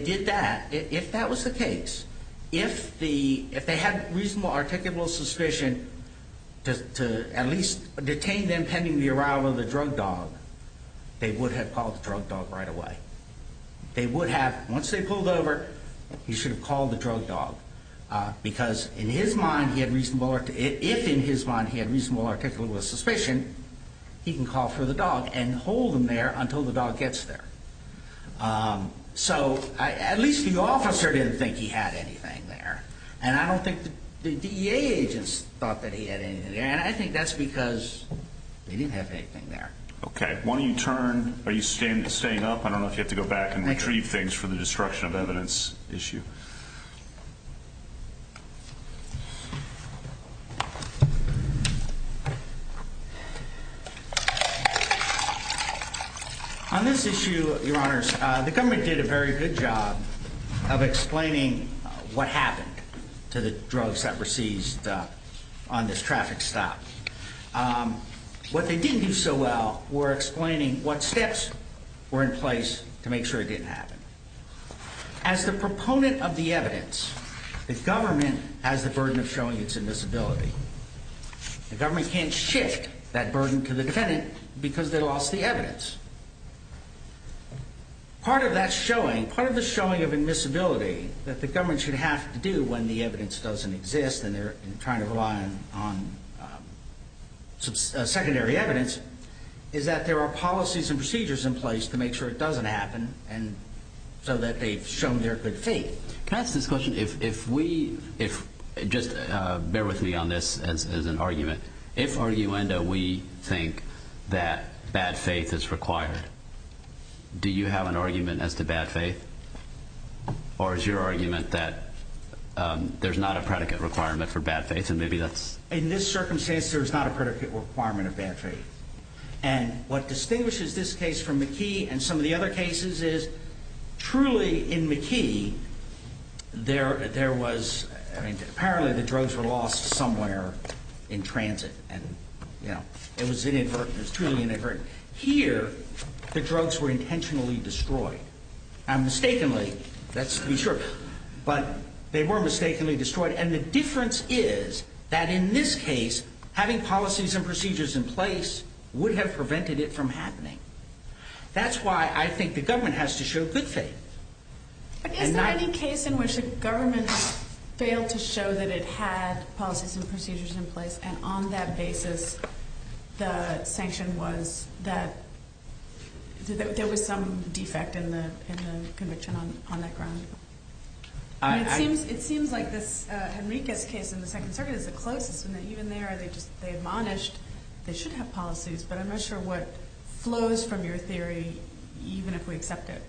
did that, if that was the case, if they had reasonable articulable suspicion to at least detain them pending the arrival of the drug dog, they would have called the drug dog right away. They would have, once they pulled over, you should have called the drug dog. Because in his mind, if in his mind he had reasonable articulable suspicion, he can call for the dog and hold him there until the dog gets there. So, at least the officer didn't think he had anything there. And I don't think the DEA agents thought that he had anything there. And I think that's because they didn't have anything there. Okay. Why don't you turn, are you staying up? I don't know if you have to go back and retrieve things for the destruction of evidence issue. On this issue, your honors, the government did a very good job of explaining what happened to the drugs that were seized on this traffic stop. What they didn't do so well were explaining what steps were in place to make sure it didn't happen. As the proponent of the drug dog, the government has the burden of showing its invisibility. The government can't shift that burden to the defendant because they lost the evidence. Part of that showing, part of the showing of invisibility that the government should have to do when the evidence doesn't exist and they're trying to rely on secondary evidence, is that there are policies and procedures in place to make sure it doesn't happen so that they've shown their good faith. Can I ask this question? If we, just bear with me on this as an argument. If, arguendo, we think that bad faith is required, do you have an argument as to bad faith? Or is your argument that there's not a predicate requirement for bad faith? In this circumstance, there's not a predicate requirement of bad faith. And what distinguishes this case from McKee and some of the other cases is, truly in McKee, there was, I mean, apparently the drugs were lost somewhere in transit. And, you know, it was inadvertent, it was truly inadvertent. Here, the drugs were intentionally destroyed. And mistakenly, let's be sure, but they were mistakenly destroyed. And the difference is that in this case, having policies and procedures in place would have prevented it from happening. That's why I think the government has to show good faith. I can't find a case in which the government failed to show that it had policies and procedures in place, and on that basis, the sanction was that, there was some defect in the conviction on that ground. It seems like this Henriquez case in the Second Circuit is the closest, and even there, they admonish, they should have policies, but I'm not sure what flows from your theory, even if we accept it.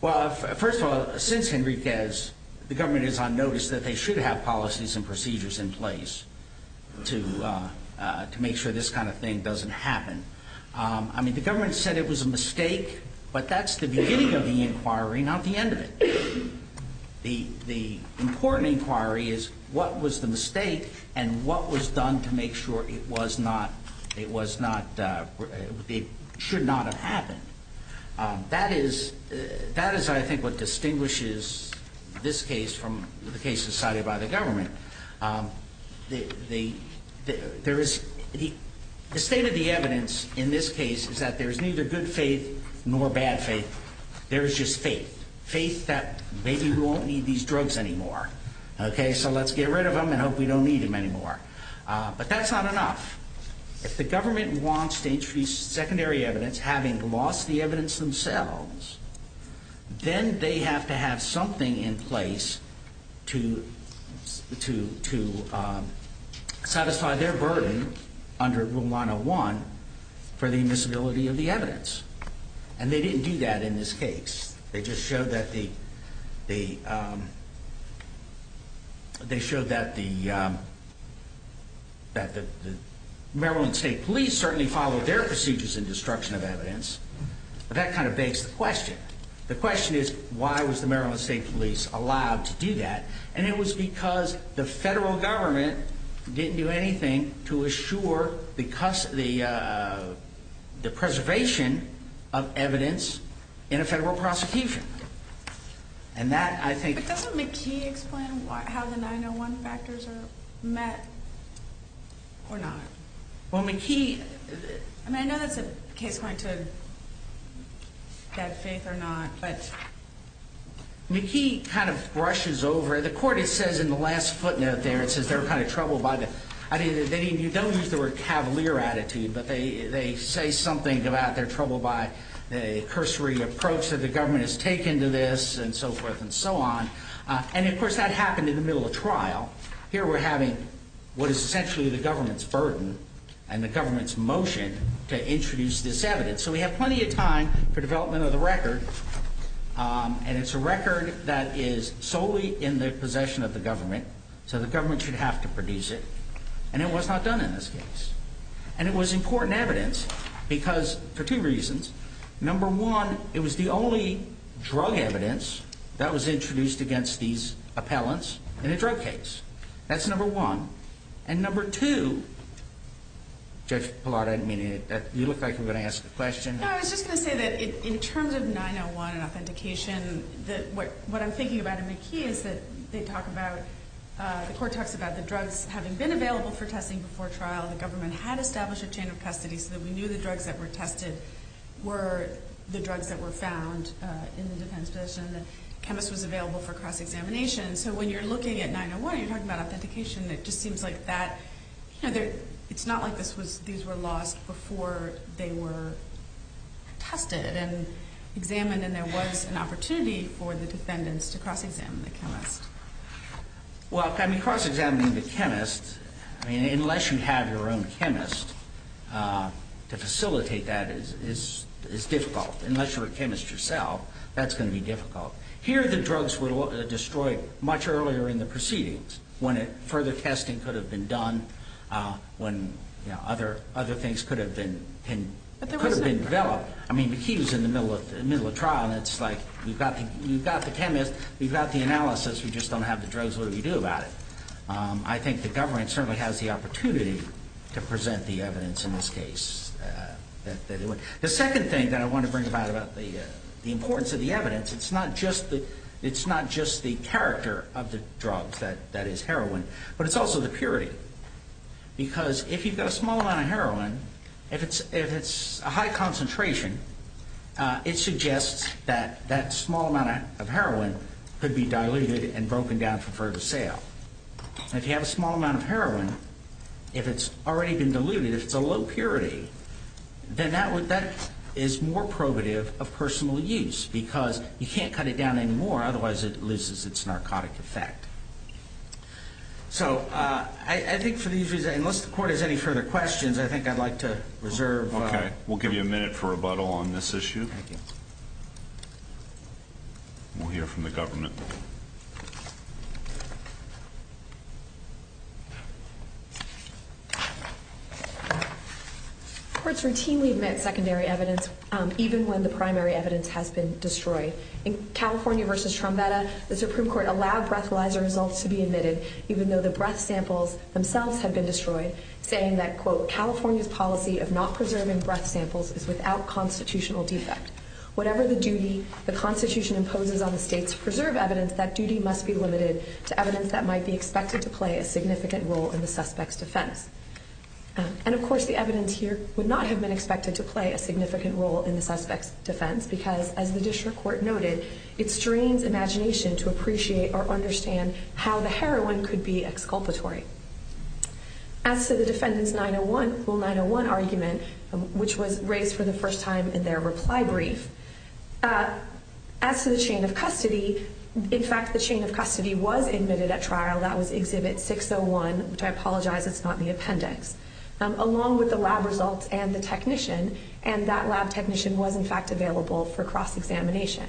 Well, first of all, since Henriquez, the government is on notice that they should have policies and procedures in place to make sure this kind of thing doesn't happen. I mean, the government said it was a mistake, but that's the beginning of the inquiry, not the end of it. The important inquiry is what was the mistake and what was done to make sure it should not have happened. That is, I think, what distinguishes this case from the case decided by the government. The state of the evidence in this case is that there is neither good faith nor bad faith. There is just faith, faith that maybe we won't need these drugs anymore. Okay, so let's get rid of them and hope we don't need them anymore. But that's not enough. If the government wants to introduce secondary evidence, having lost the evidence themselves, then they have to have something in place to satisfy their burden under Room 101 for the invisibility of the evidence. And they didn't do that in this case. They just showed that the Maryland State Police certainly followed their procedures in destruction of evidence. But that kind of begs the question. The question is, why was the Maryland State Police allowed to do that? And it was because the federal government didn't do anything to assure, or because of the preservation of evidence in a federal prosecution. And that, I think... But doesn't McKee explain how the 901 factors are met or not? Well, McKee... And I know that the case went to get faith or not, but... McKee kind of brushes over. The court, it says in the last footnote there, it says they're kind of troubled by the... I mean, you don't use the word cavalier attitude, but they say something about they're troubled by the cursory approach that the government has taken to this, and so forth and so on. And, of course, that happened in the middle of trial. Here we're having what is essentially the government's burden and the government's motion to introduce this evidence. So we have plenty of time for development of the record. And it's a record that is solely in the possession of the government. So the government should have to produce it. And it was not done in this case. And it was in court and evidence for two reasons. Number one, it was the only drug evidence that was introduced against these appellants in a drug case. That's number one. And number two... Judge Pallotta, you look like you're going to ask a question. No, I was just going to say that in terms of 901 and authentication, what I'm thinking about in McKee is that they talk about... The court talks about the drugs having been available for testing before trial. The government had established a chain of custody so that we knew the drugs that were tested were the drugs that were found in the defense system. The chemist was available for cross-examination. So when you're looking at 901, you're talking about authentication. It just seems like that... It's not like these were lost before they were tested and examined and then there was an opportunity for the defendants to cross-examine the chemist. Well, cross-examining the chemist, unless you have your own chemist to facilitate that, is difficult. Unless you're a chemist yourself, that's going to be difficult. Here the drugs were destroyed much earlier in the proceedings when further testing could have been done, when other things could have been developed. I mean, McKee was in the middle of trial and it's like, you've got the chemist, you've got the analysis, we just don't have the drugs, what do we do about it? I think the government certainly has the opportunity to present the evidence in this case. The second thing that I want to bring about, about the importance of the evidence, it's not just the character of the drug that is heroin, but it's also the purity. Because if you've got a small amount of heroin, if it's a high concentration, it suggests that that small amount of heroin could be diluted and broken down for further sale. If you have a small amount of heroin, if it's already been diluted, if it's a low purity, then that is more probative of personal use because you can't cut it down anymore, otherwise it loses its narcotic effect. So I think for these reasons, unless the Court has any further questions, I think I'd like to reserve... Okay, we'll give you a minute for rebuttal on this issue. Thank you. We'll hear from the government. Courts routinely admit secondary evidence even when the primary evidence has been destroyed. In California v. Trombetta, the Supreme Court allowed breast laser results to be admitted even though the breast samples themselves had been destroyed, saying that, quote, California's policy of not preserving breast samples is without constitutional defects. Whatever the duty the Constitution imposes on the state to preserve evidence, that duty must be limited to evidence that might be expected to play a significant role in the suspect's defense. And, of course, the evidence here would not have been expected to play a significant role in the suspect's defense because, as the District Court noted, it strains imagination to appreciate or understand how the heroin could be exculpatory. As for the defendant's 901 argument, which was raised for the first time in their reply brief, as for the chain of custody, in fact, the chain of custody was admitted at trial. That was Exhibit 601, which I apologize is not the appendix, along with the lab results and the technician, and that lab technician was, in fact, available for cross-examination.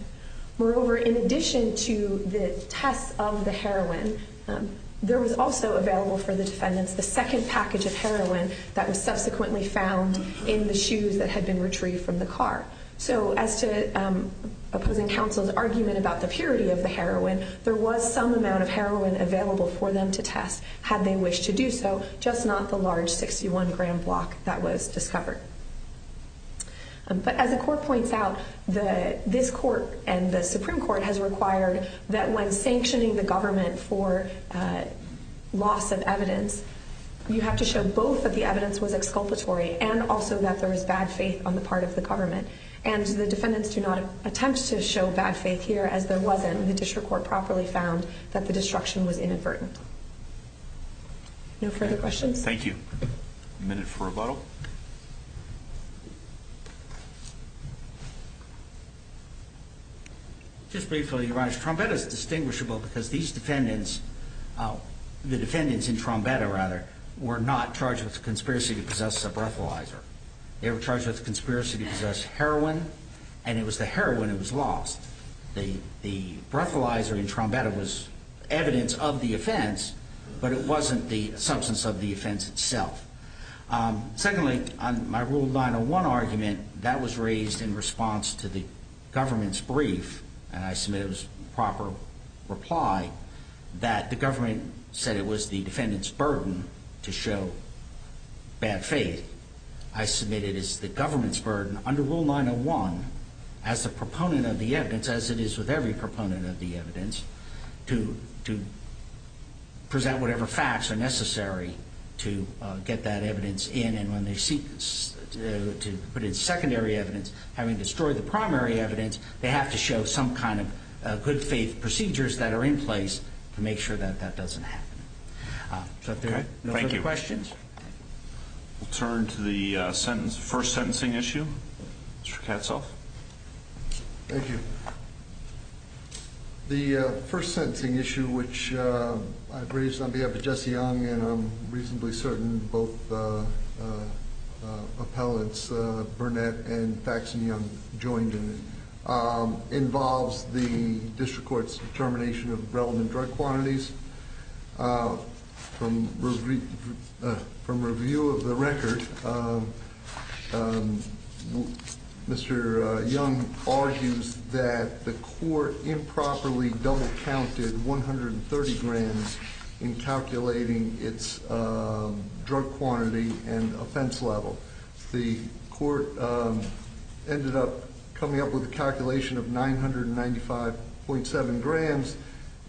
Moreover, in addition to the test of the heroin, there was also available for the defendant the second package of heroin that was subsequently found in the shoes that had been retrieved from the car. So as to opposing counsel's argument about the purity of the heroin, there was some amount of heroin available for them to test had they wished to do so, just not the large 61-gram block that was discovered. But as the Court points out, this Court and the Supreme Court has required that when sanctioning the government for loss of evidence, you have to show both that the evidence was exculpatory and also that there is bad faith on the part of the government. And the defendants do not attempt to show bad faith here, as there wasn't, and the district court properly found that the destruction was inadvertent. No further questions? Thank you. A minute for rebuttal. Just briefly, Your Honor, Trombetta is distinguishable because these defendants, the defendants in Trombetta, rather, were not charged with conspiracy to possess a breathalyzer. They were charged with conspiracy to possess heroin, and it was the heroin that was lost. The breathalyzer in Trombetta was evidence of the offense, but it wasn't the substance of the offense itself. Secondly, my Rule 901 argument, that was raised in response to the government's brief, and I submit it was a proper reply, that the government said it was the defendants' burden to show bad faith. I submit it is the government's burden under Rule 901, as the proponent of the evidence, as it is with every proponent of the evidence, to present whatever facts are necessary to get that evidence in, and when they seek to put in secondary evidence, having destroyed the primary evidence, they have to show some kind of good faith procedures that are in place to make sure that that doesn't happen. Thank you. No further questions? We'll turn to the first sentencing issue. Mr. Katzoff. Thank you. The first sentencing issue, which I raised on behalf of Jesse Young, and I'm reasonably certain both appellants, Burnett and Faxenium, joined in, involves the district court's determination of the relevant drug quantities. From review of the record, Mr. Young argues that the court improperly double-counted 130 grand in calculating its drug quantity and offense level. The court ended up coming up with a calculation of 995.7 grand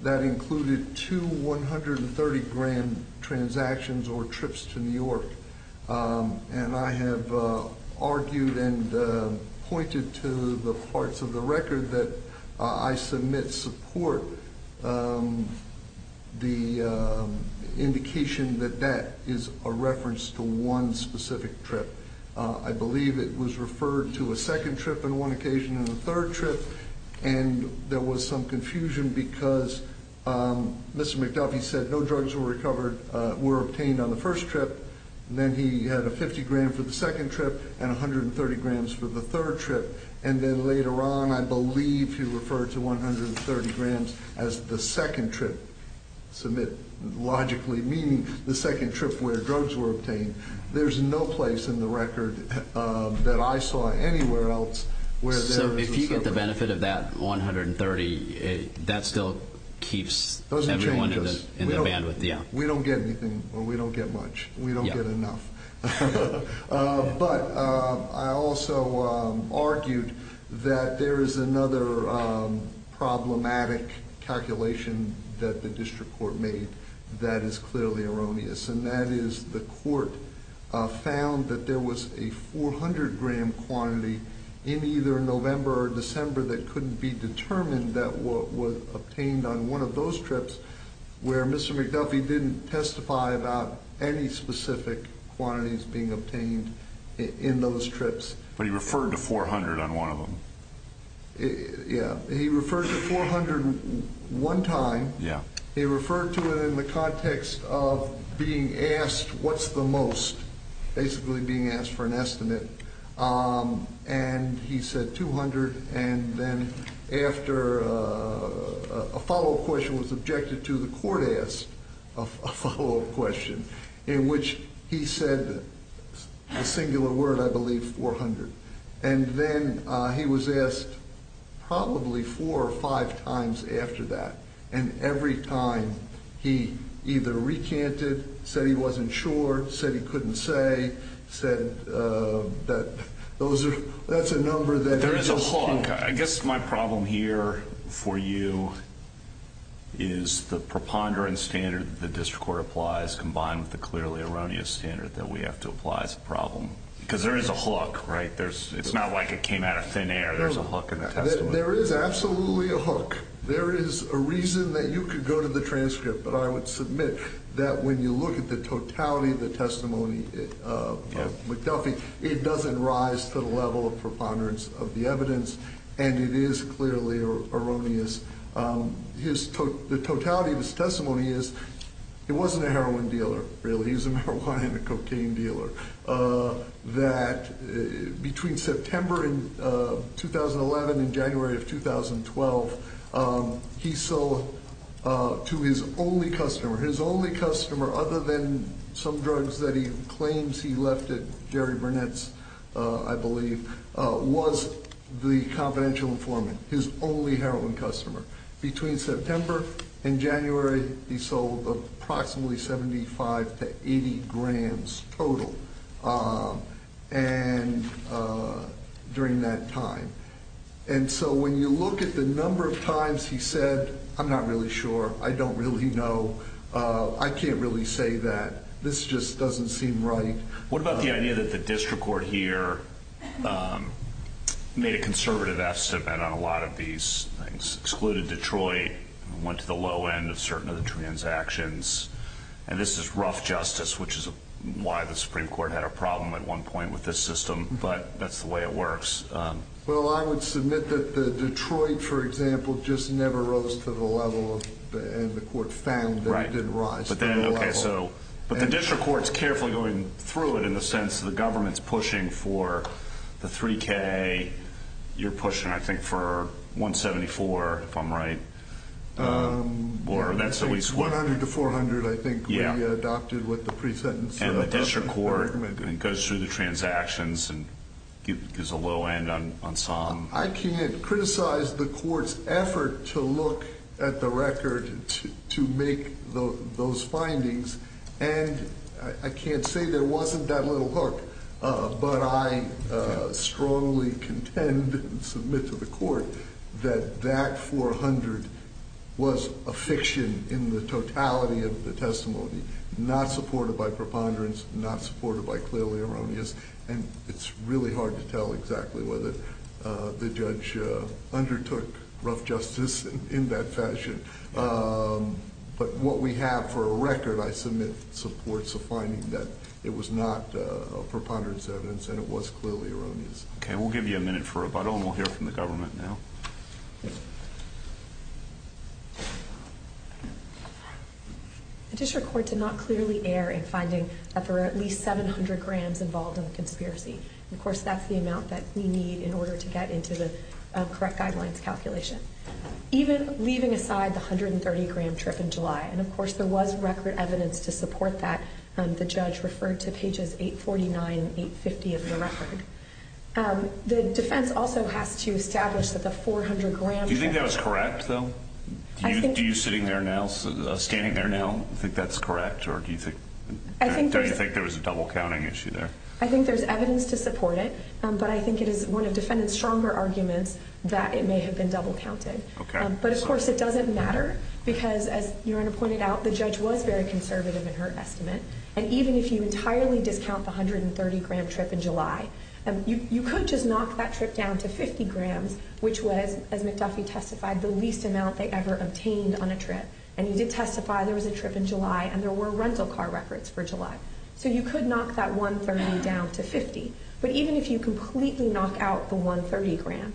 that included two 130 grand transactions or trips to New York, and I have argued and pointed to the parts of the record that I submit support the indication that that is a reference to one specific trip. I believe it was referred to a second trip on one occasion and a third trip, and there was some confusion because Mr. McDuffie said no drugs were obtained on the first trip, and then he had a 50 grand for the second trip and 130 grand for the third trip, and then later on I believe he referred to 130 grand as the second trip, logically meaning the second trip where drugs were obtained. There's no place in the record that I saw anywhere else where there was a second trip. So if you get the benefit of that 130, that still keeps everyone in the bandwidth? Yeah. We don't get anything or we don't get much. We don't get enough. But I also argued that there is another problematic calculation that the district court made that is clearly erroneous, and that is the court found that there was a 400 grand quantity in either November or December that couldn't be determined that what was obtained on one of those trips where Mr. McDuffie didn't testify about any specific quantities being obtained in those trips. But he referred to 400 on one of them. Yeah. He referred to 400 one time. Yeah. He referred to it in the context of being asked what's the most, basically being asked for an estimate, and he said 200, and then after a follow-up question was objected to, the court asked a follow-up question in which he said the singular word, I believe, 400. And then he was asked probably four or five times after that, and every time he either recanted, said he wasn't sure, said he couldn't say, said that those are the numbers. There is a hook. I guess my problem here for you is the preponderance standard the district court applies combined with the clearly erroneous standard that we have to apply as a problem, because there is a hook, right? It's not like it came out of thin air. There's a hook in that. There is absolutely a hook. There is a reason that you could go to the transcript, but I would submit that when you look at the totality of the testimony of McDuffie, it doesn't rise to the level of preponderance of the evidence, and it is clearly erroneous. The totality of his testimony is he wasn't a heroin dealer, really. He was a marijuana and cocaine dealer. Between September 2011 and January 2012, he sold to his only customer, other than some drugs that he claims he left at Jerry Burnett's, I believe, was the confidential informant, his only heroin customer. Between September and January, he sold approximately 75 to 80 grams total during that time. And so when you look at the number of times he said, I'm not really sure. I don't really know. I can't really say that. This just doesn't seem right. What about the idea that the district court here made a conservative estimate on a lot of these things, excluded Detroit, went to the low end of certain of the transactions, and this is rough justice, which is why the Supreme Court had a problem at one point with this system, but that's the way it works. Well, I would submit that Detroit, for example, just never rose to the level and the court found that it did rise. But the district court is carefully going through it in the sense that the government is pushing for the 3K. You're pushing, I think, for 174, if I'm right. 100 to 400, I think, would be adopted with the pre-sentence. The district court goes through the transactions and is a low end on some. I can't criticize the court's effort to look at the record to make those findings, and I can't say there wasn't that little hook, but I strongly contend and submit to the court that that 400 was a fiction in the totality of the testimony, not supported by preponderance, not supported by clearly erroneous, and it's really hard to tell exactly whether the judge undertook rough justice in that fashion. But what we have for a record, I submit supports a finding that it was not a preponderance sentence and it was clearly erroneous. Okay. We'll give you a minute for rebuttal and we'll hear from the government now. The district court did not clearly err in finding that there were at least 700 grams involved in the conspiracy. Of course, that's the amount that we need in order to get into the correct guidelines calculation. Even leaving aside the 130-gram trip in July, and of course, there was record evidence to support that. The judge referred to pages 849 and 850 of the record. The defense also has to establish that the 400 grams… Do you think that was correct, though? Do you, sitting there now, standing there now, think that's correct, or do you think there was a double-counting issue there? I think there's evidence to support it, but I think it is one of the defendants' stronger arguments that it may have been double-counted. But, of course, it doesn't matter because, as Your Honor pointed out, the judge was very conservative in her estimate, and even if you entirely discount the 130-gram trip in July, you could just knock that trip down to 50 grams, which was, as Ms. Duffy testified, the least amount they ever obtained on a trip. And you did testify there was a trip in July, and there were rental car records for July. So you could knock that 130 down to 50. But even if you completely knock out the 130 grams,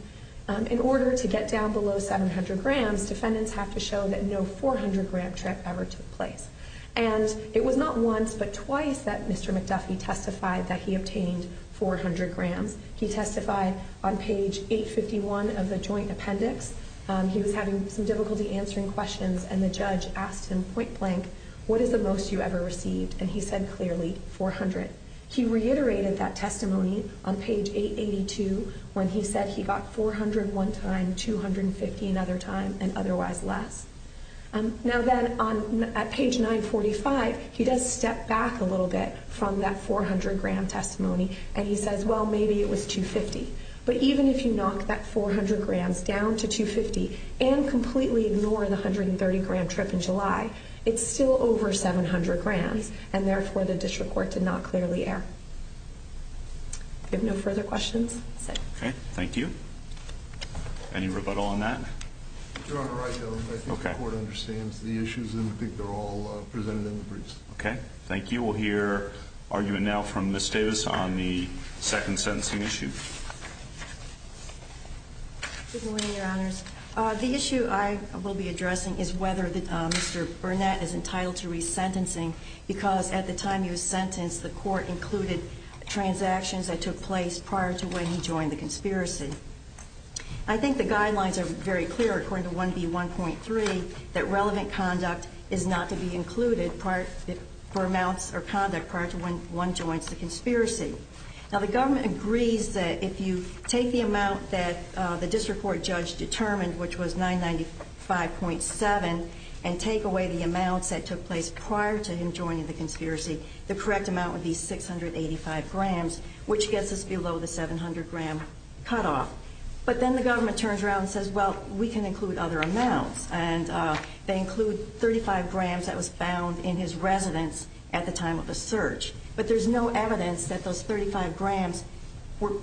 in order to get down below 700 grams, defendants have to show that no 400-gram trip ever took place. And it was not once but twice that Mr. McDuffie testified that he obtained 400 grams. He testified on page 851 of the joint appendix. He was having some difficulty answering questions, and the judge asked him point-blank, what is the most you ever received? And he said clearly, 400. He reiterated that testimony on page 882 when he said he got 400 one time, 250 another time, and otherwise less. Now then, on page 945, he does step back a little bit from that 400-gram testimony, and he says, well, maybe it was 250. But even if you knock that 400 grams down to 250 and completely ignore the 130-gram trip in July, it's still over 700 grams, and therefore the district court did not clearly err. Do we have no further questions? Okay, thank you. Any rebuttal on that? Your Honor, I think the court understands the issues, and I think they're all presented in the briefs. Okay, thank you. We'll hear argument now from Ms. Davis on the second sentencing issue. Good morning, Your Honors. The issue I will be addressing is whether Mr. Burnett is entitled to resentencing because at the time of your sentence, the court included transactions that took place prior to when he joined the conspiracy. I think the guidelines are very clear according to 1B1.3 that relevant conduct is not to be included for amounts or conduct prior to when one joins the conspiracy. Now, the government agrees that if you take the amount that the district court judge determined, which was 995.7, and take away the amount that took place prior to him joining the conspiracy, the correct amount would be 685 grams, which gets us below the 700-gram cutoff. But then the government turns around and says, well, we can include other amounts, and they include 35 grams that was found in his residence at the time of the search. But there's no evidence that those 35 grams were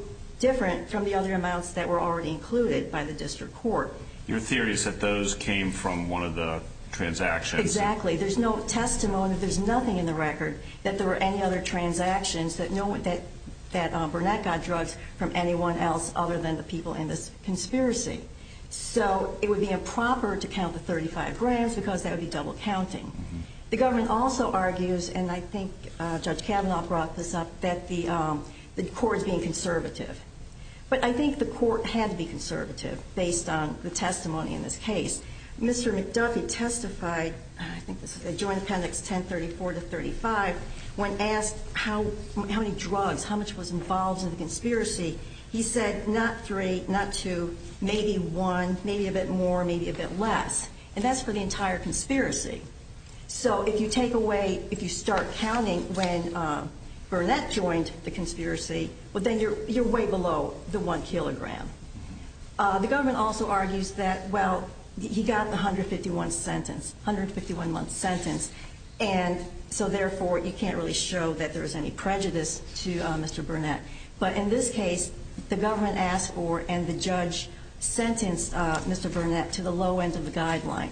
different from the other amounts that were already included by the district court. Your theory is that those came from one of the transactions. Exactly. There's no testimony, there's nothing in the record that there were any other transactions that Burnett got drugged from anyone else other than the people in the conspiracy. So it would be improper to count the 35 grams because that would be double counting. The government also argues, and I think Judge Kavanaugh brought this up, that the court is being conservative. But I think the court had to be conservative based on the testimony in this case. Mr. McDuffie testified, I think this was a joint sentence, 1034-35, when asked how many drugs, how much was involved in the conspiracy, he said not three, not two, maybe one, maybe a bit more, maybe a bit less. And that's for the entire conspiracy. So if you take away, if you start counting when Burnett joined the conspiracy, then you're way below the one kilogram. The government also argues that, well, he got the 151 sentence, 151 month sentence, and so therefore you can't really show that there was any prejudice to Mr. Burnett. But in this case, the government asked for and the judge sentenced Mr. Burnett to the low end of the guideline.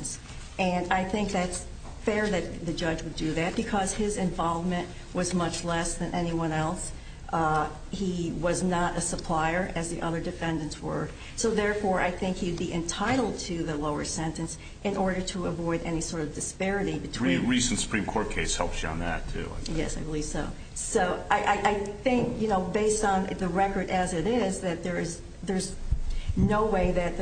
And I think that's fair that the judge would do that because his involvement was much less than anyone else. He was not a supplier, as the other defendants were. So therefore, I think he'd be entitled to the lower sentence in order to avoid any sort of disparity. The recent Supreme Court case helped you on that, too. Yes, I believe so. So I think, you know, based on the record as it is, that there's no way that...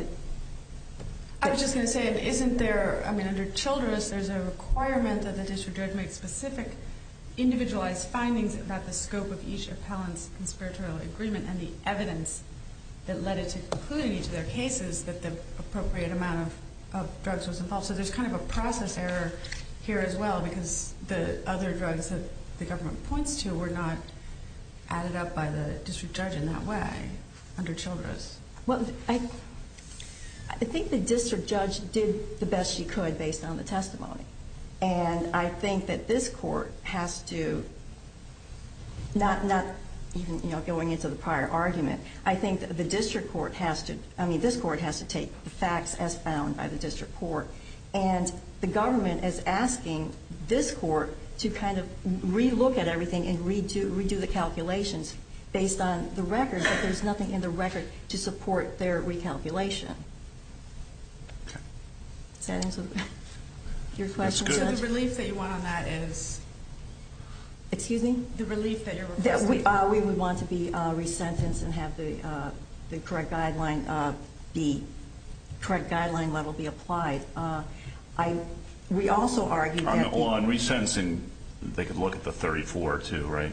I was just going to say, isn't there, I mean, under Children's, there's a requirement that the district judge make specific individualized findings about the scope of each appellant's conspiratorial agreement and the evidence that led it to conclude in each of their cases that the appropriate amount of drugs was involved. So there's kind of a process error here as well because the other drugs that the government points to were not added up by the district judge in that way under Children's. Well, I think the district judge did the best she could based on the testimony. And I think that this court has to, not going into the prior argument, I think that this court has to take facts as found by the district court. And the government is asking this court to kind of re-look at everything and re-do the calculations based on the record, but there's nothing in the record to support their recalculation. Okay. Your question, sir? The relief that you want on that is... Excuse me? The relief that you're... That we would want to be resentenced and have the correct guideline level be applied. We also argue that... On resentencing, they could look at the 34 too, right?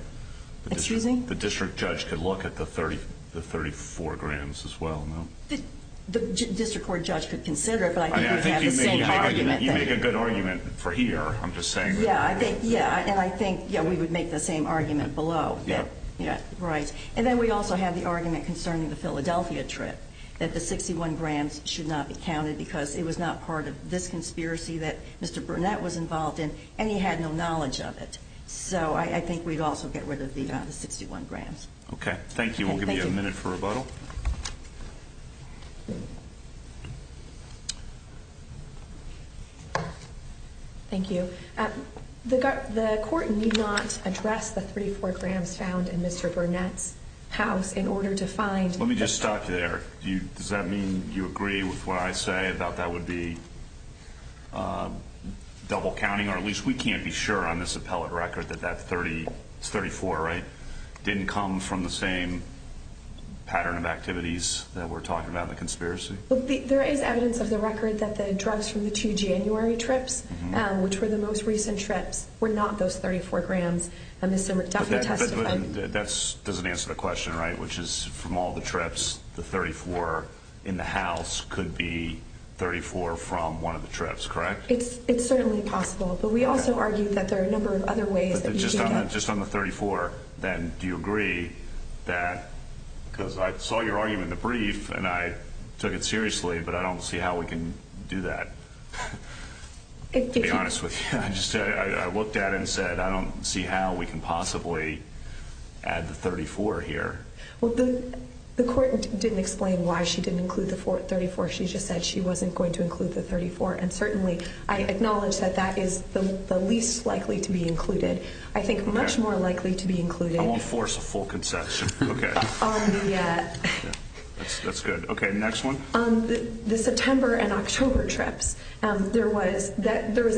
Excuse me? The district judge could look at the 34 grams as well, no? The district court judge could consider it, but I think we have the same argument. You make a good argument for here, I'm just saying. Yeah, and I think we would make the same argument below. Yeah. Right. And then we also have the argument concerning the Philadelphia trip, that the 61 grams should not be counted because it was not part of this conspiracy that Mr. Burnett was involved in, and he had no knowledge of it. So I think we'd also get rid of the amount of 61 grams. Okay. Thank you. We'll give you a minute for rebuttal. Okay. Thank you. The court did not address the 34 grams found in Mr. Burnett's house in order to find... Let me just stop there. Does that mean you agree with what I say about that would be double counting, or at least we can't be sure on this appellate record that that 34, right, didn't come from the same pattern of activities that we're talking about in the conspiracy? There is evidence of the record that the drugs from the two January trips, which were the most recent trips, were not those 34 grams. That doesn't answer the question, right, which is from all the trips, the 34 in the house could be 34 from one of the trips, correct? It's certainly possible, but we also argue that there are a number of other ways. If it's just on the 34, then do you agree that, because I saw your argument in the brief and I took it seriously, but I don't see how we can do that, to be honest with you. I looked at it and said I don't see how we can possibly add the 34 here. Well, the court didn't explain why she didn't include the 34. She just said she wasn't going to include the 34, and certainly I acknowledge that that is the least likely to be included. I think much more likely to be included on the September and October trips. There was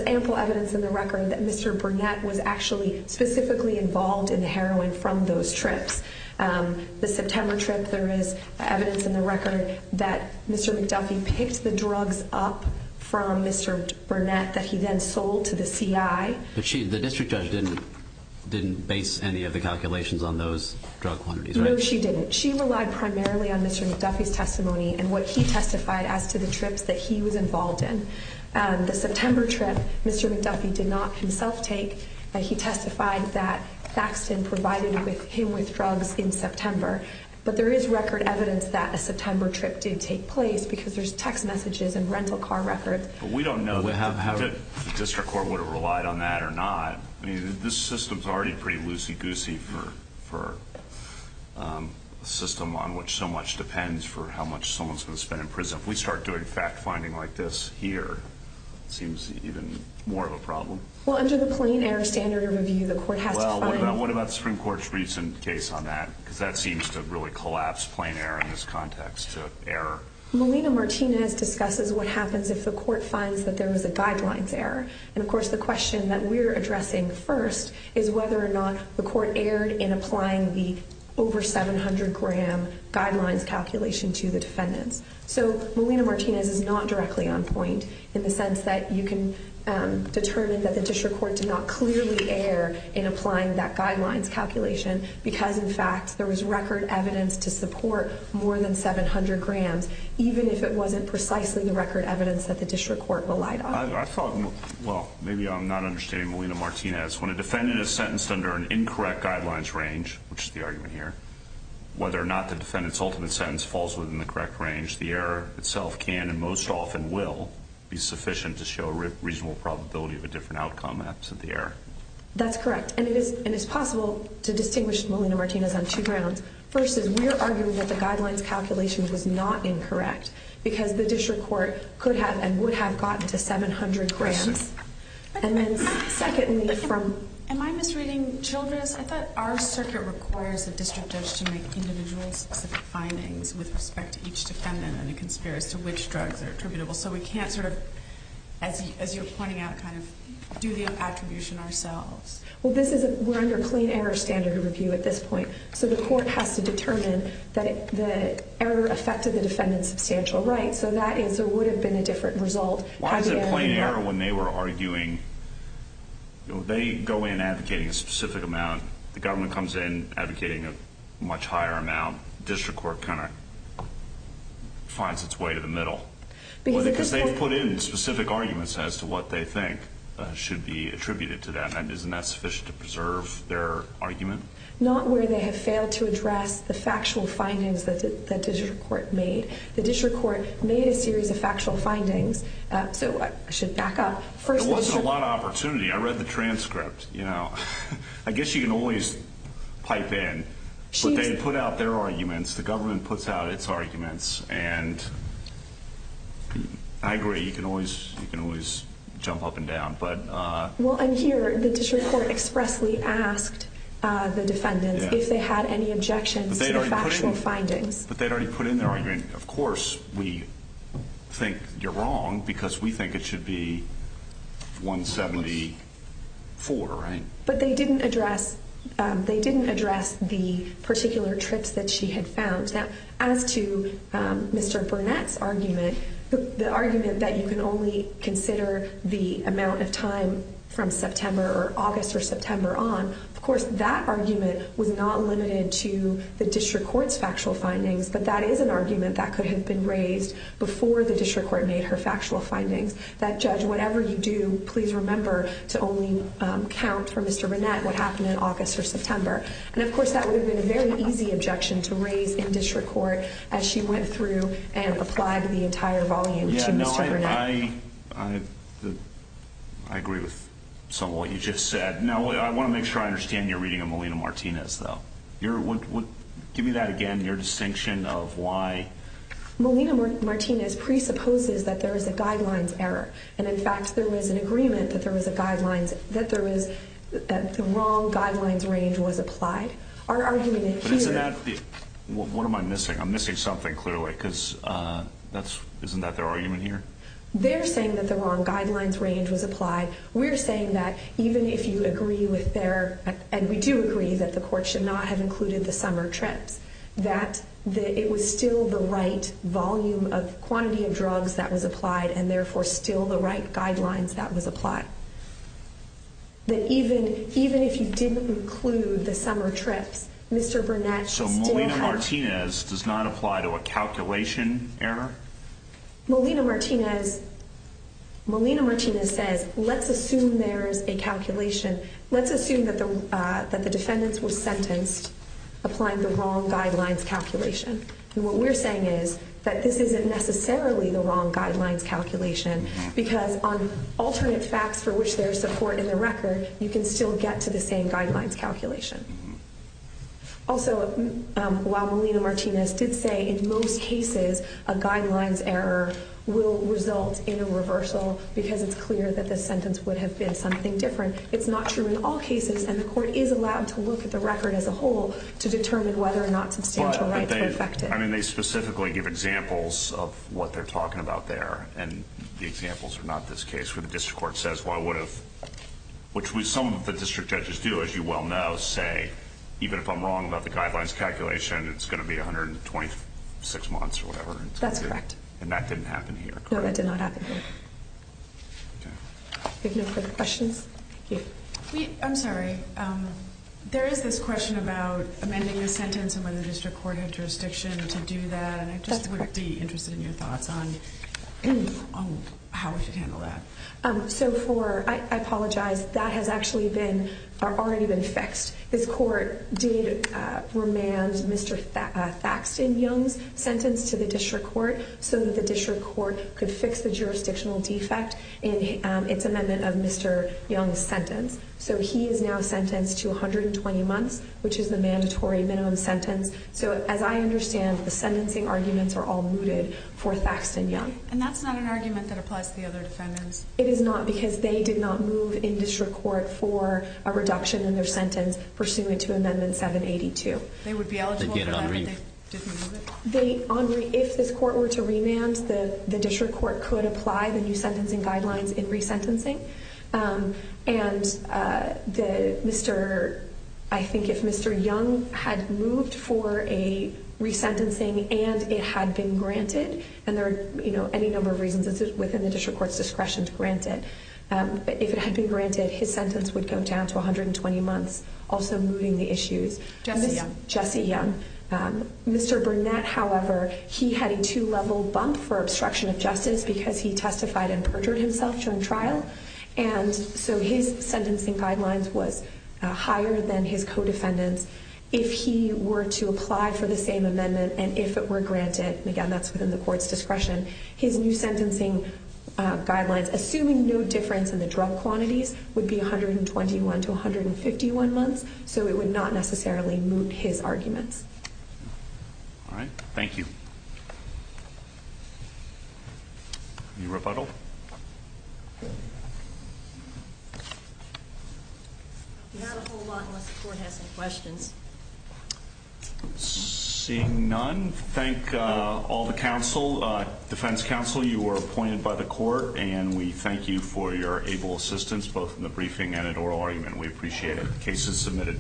ample evidence in the record that Mr. Burnett was actually specifically involved in heroin from those trips. The September trips, there is evidence in the record that Mr. McDuffie picked the drugs up from Mr. Burnett that he then sold to the CI. But the district judge didn't base any of the calculations on those drug quantities, right? No, she didn't. She relied primarily on Mr. McDuffie's testimony and what he testified as to the trips that he was involved in. The September trips, Mr. McDuffie did not himself take. He testified that Saxton provided him with drugs in September. But there is record evidence that a September trip did take place because there's text messages and rental car records. But we don't know how the district court would have relied on that or not. I mean, this system's already pretty loosey-goosey for a system on which so much depends for how much someone's going to spend in prison. If we start doing fact-finding like this here, it seems even more of a problem. Well, under the plain error standard of review, the court had to find— Well, what about the Supreme Court's recent case on that? Because that seems to really collapse plain error in this context to error. Melina Martinez discusses what happens if the court finds that there was a guidelines error. And, of course, the question that we're addressing first is whether or not the court erred in applying the over-700-gram guidelines calculation to the defendant. So Melina Martinez is not directly on point in the sense that you can determine that the district court did not clearly err in applying that guidelines calculation because, in fact, there was record evidence to support more than 700 grams, even if it wasn't precisely the record evidence that the district court relied on. Well, maybe I'm not understanding Melina Martinez. When a defendant is sentenced under an incorrect guidelines range, which is the argument here, whether or not the defendant's ultimate sentence falls within the correct range, the error itself can and most often will be sufficient to show a reasonable probability of a different outcome absent the error. That's correct. And it's possible to distinguish Melina Martinez on two grounds. First is we're arguing that the guidelines calculation was not incorrect because the district court could have and would have gotten the 700 grams. And then second is from... Am I misreading, children? I thought our district court requires that the district judge to make individual findings with respect to each defendant on the conspiracy of which drugs are attributable. So we can't sort of, as you're pointing out, kind of do the attribution ourselves. Well, we're under plain error standard review at this point. So the court has to determine that the error affected the defendant's substantial right. So that would have been a different result. Why is there plain error when they were arguing? They go in advocating a specific amount. The government comes in advocating a much higher amount. The district court kind of finds its way to the middle. Because they put in specific arguments as to what they think should be attributed to them, and isn't that sufficient to preserve their argument? Not where they have failed to address the factual findings that the district court made. The district court made a series of factual findings. So I should back up. There wasn't a lot of opportunity. I read the transcript. I guess you can always pipe in. But they put out their arguments. The government puts out its arguments. And I agree. You can always jump up and down. Well, and here the district court expressly asked the defendant if they had any objections to the factual findings. But they'd already put in their argument. Of course we think you're wrong because we think it should be 174, right? But they didn't address the particular trips that she had found. Now, as to Mr. Burnett's argument, the argument that you can only consider the amount of time from September or August or September on, of course that argument was not limited to the district court's factual findings, but that is an argument that could have been raised before the district court made her factual findings. That judge, whatever you do, please remember to only count for Mr. Burnett what happened in August or September. And, of course, that would have been a very easy objection to raise in district court as she went through and applied the entire volume to Mr. Burnett. I agree with some of what you just said. Now, I want to make sure I understand your reading of Molina-Martinez, though. Give me that again, your distinction of why. Molina-Martinez presupposes that there is a guidelines error. And, in fact, there was an agreement that the wrong guidelines range was applied. Our argument is clear. What am I missing? I'm missing something clearly because isn't that their argument here? They're saying that the wrong guidelines range was applied. We're saying that even if you agree with their, and we do agree that the court should not have included the summer trip, that it was still the right volume of quantity of drugs that was applied and, therefore, still the right guidelines that was applied. That even if you didn't include the summer trip, Mr. Burnett still had. So Molina-Martinez does not apply to a calculation error? Molina-Martinez said, let's assume there is a calculation. Let's assume that the defendants were sentenced applying the wrong guidelines calculation. And what we're saying is that this isn't necessarily the wrong guidelines calculation because on alternate facts for which there is support in the record, you can still get to the same guidelines calculation. Also, while Molina-Martinez did say in most cases a guidelines error will result in a reversal because it's clear that the sentence would have been something different, it's not true in all cases and the court is allowed to look at the record as a whole to determine whether or not substantial rights were affected. I mean, they specifically give examples of what they're talking about there and the examples are not this case where the district court says, which some of the district judges do, as you well know, say, even if I'm wrong about the guidelines calculation, it's going to be 126 months or whatever. That's correct. And that didn't happen here? No, that did not happen here. Okay. Any other questions? Yes. I'm sorry. There is this question about amending the sentence when the district court had jurisdiction to do that. I guess I'd be interested in your thoughts on how to handle that. So for, I apologize, that has actually been, or already been fixed. The court did remand Mr. Saxton Young's sentence to the district court so that the district court could fix the jurisdictional defect in its amendment of Mr. Young's sentence. So he is now sentenced to 120 months, which is a mandatory known sentence. So as I understand, the sentencing arguments are all rooted for Saxton Young. And that's not an argument that applies to the other sentence. It is not because they did not move in district court for a reduction in their sentence pursuant to Amendment 782. They would be eligible to amend it differently? If the court were to remand, the district court could apply the new sentencing guidelines in resentencing. And I think if Mr. Young had moved for a resentencing and it had been granted, and there are any number of reasons, this is within the district court's discretion to grant it. If it had been granted, his sentence would go down to 120 months, also moving the issues. Jesse Young. Jesse Young. Mr. Burnett, however, he had a two-level bump for obstruction of justice because he testified and perjured himself during trial. And so his sentencing guidelines were higher than his co-defendants. If he were to apply for the same amendment and if it were granted, and again, that's within the court's discretion, his new sentencing guidelines, assuming no difference in the drug quantity, would be 121 to 151 months. So it would not necessarily move his argument. All right. Thank you. Any rebuttal? Seeing none, thank all the defense counsel. You were appointed by the court, and we thank you for your able assistance, both in the briefing and in the oral argument. We appreciate it. The case is submitted.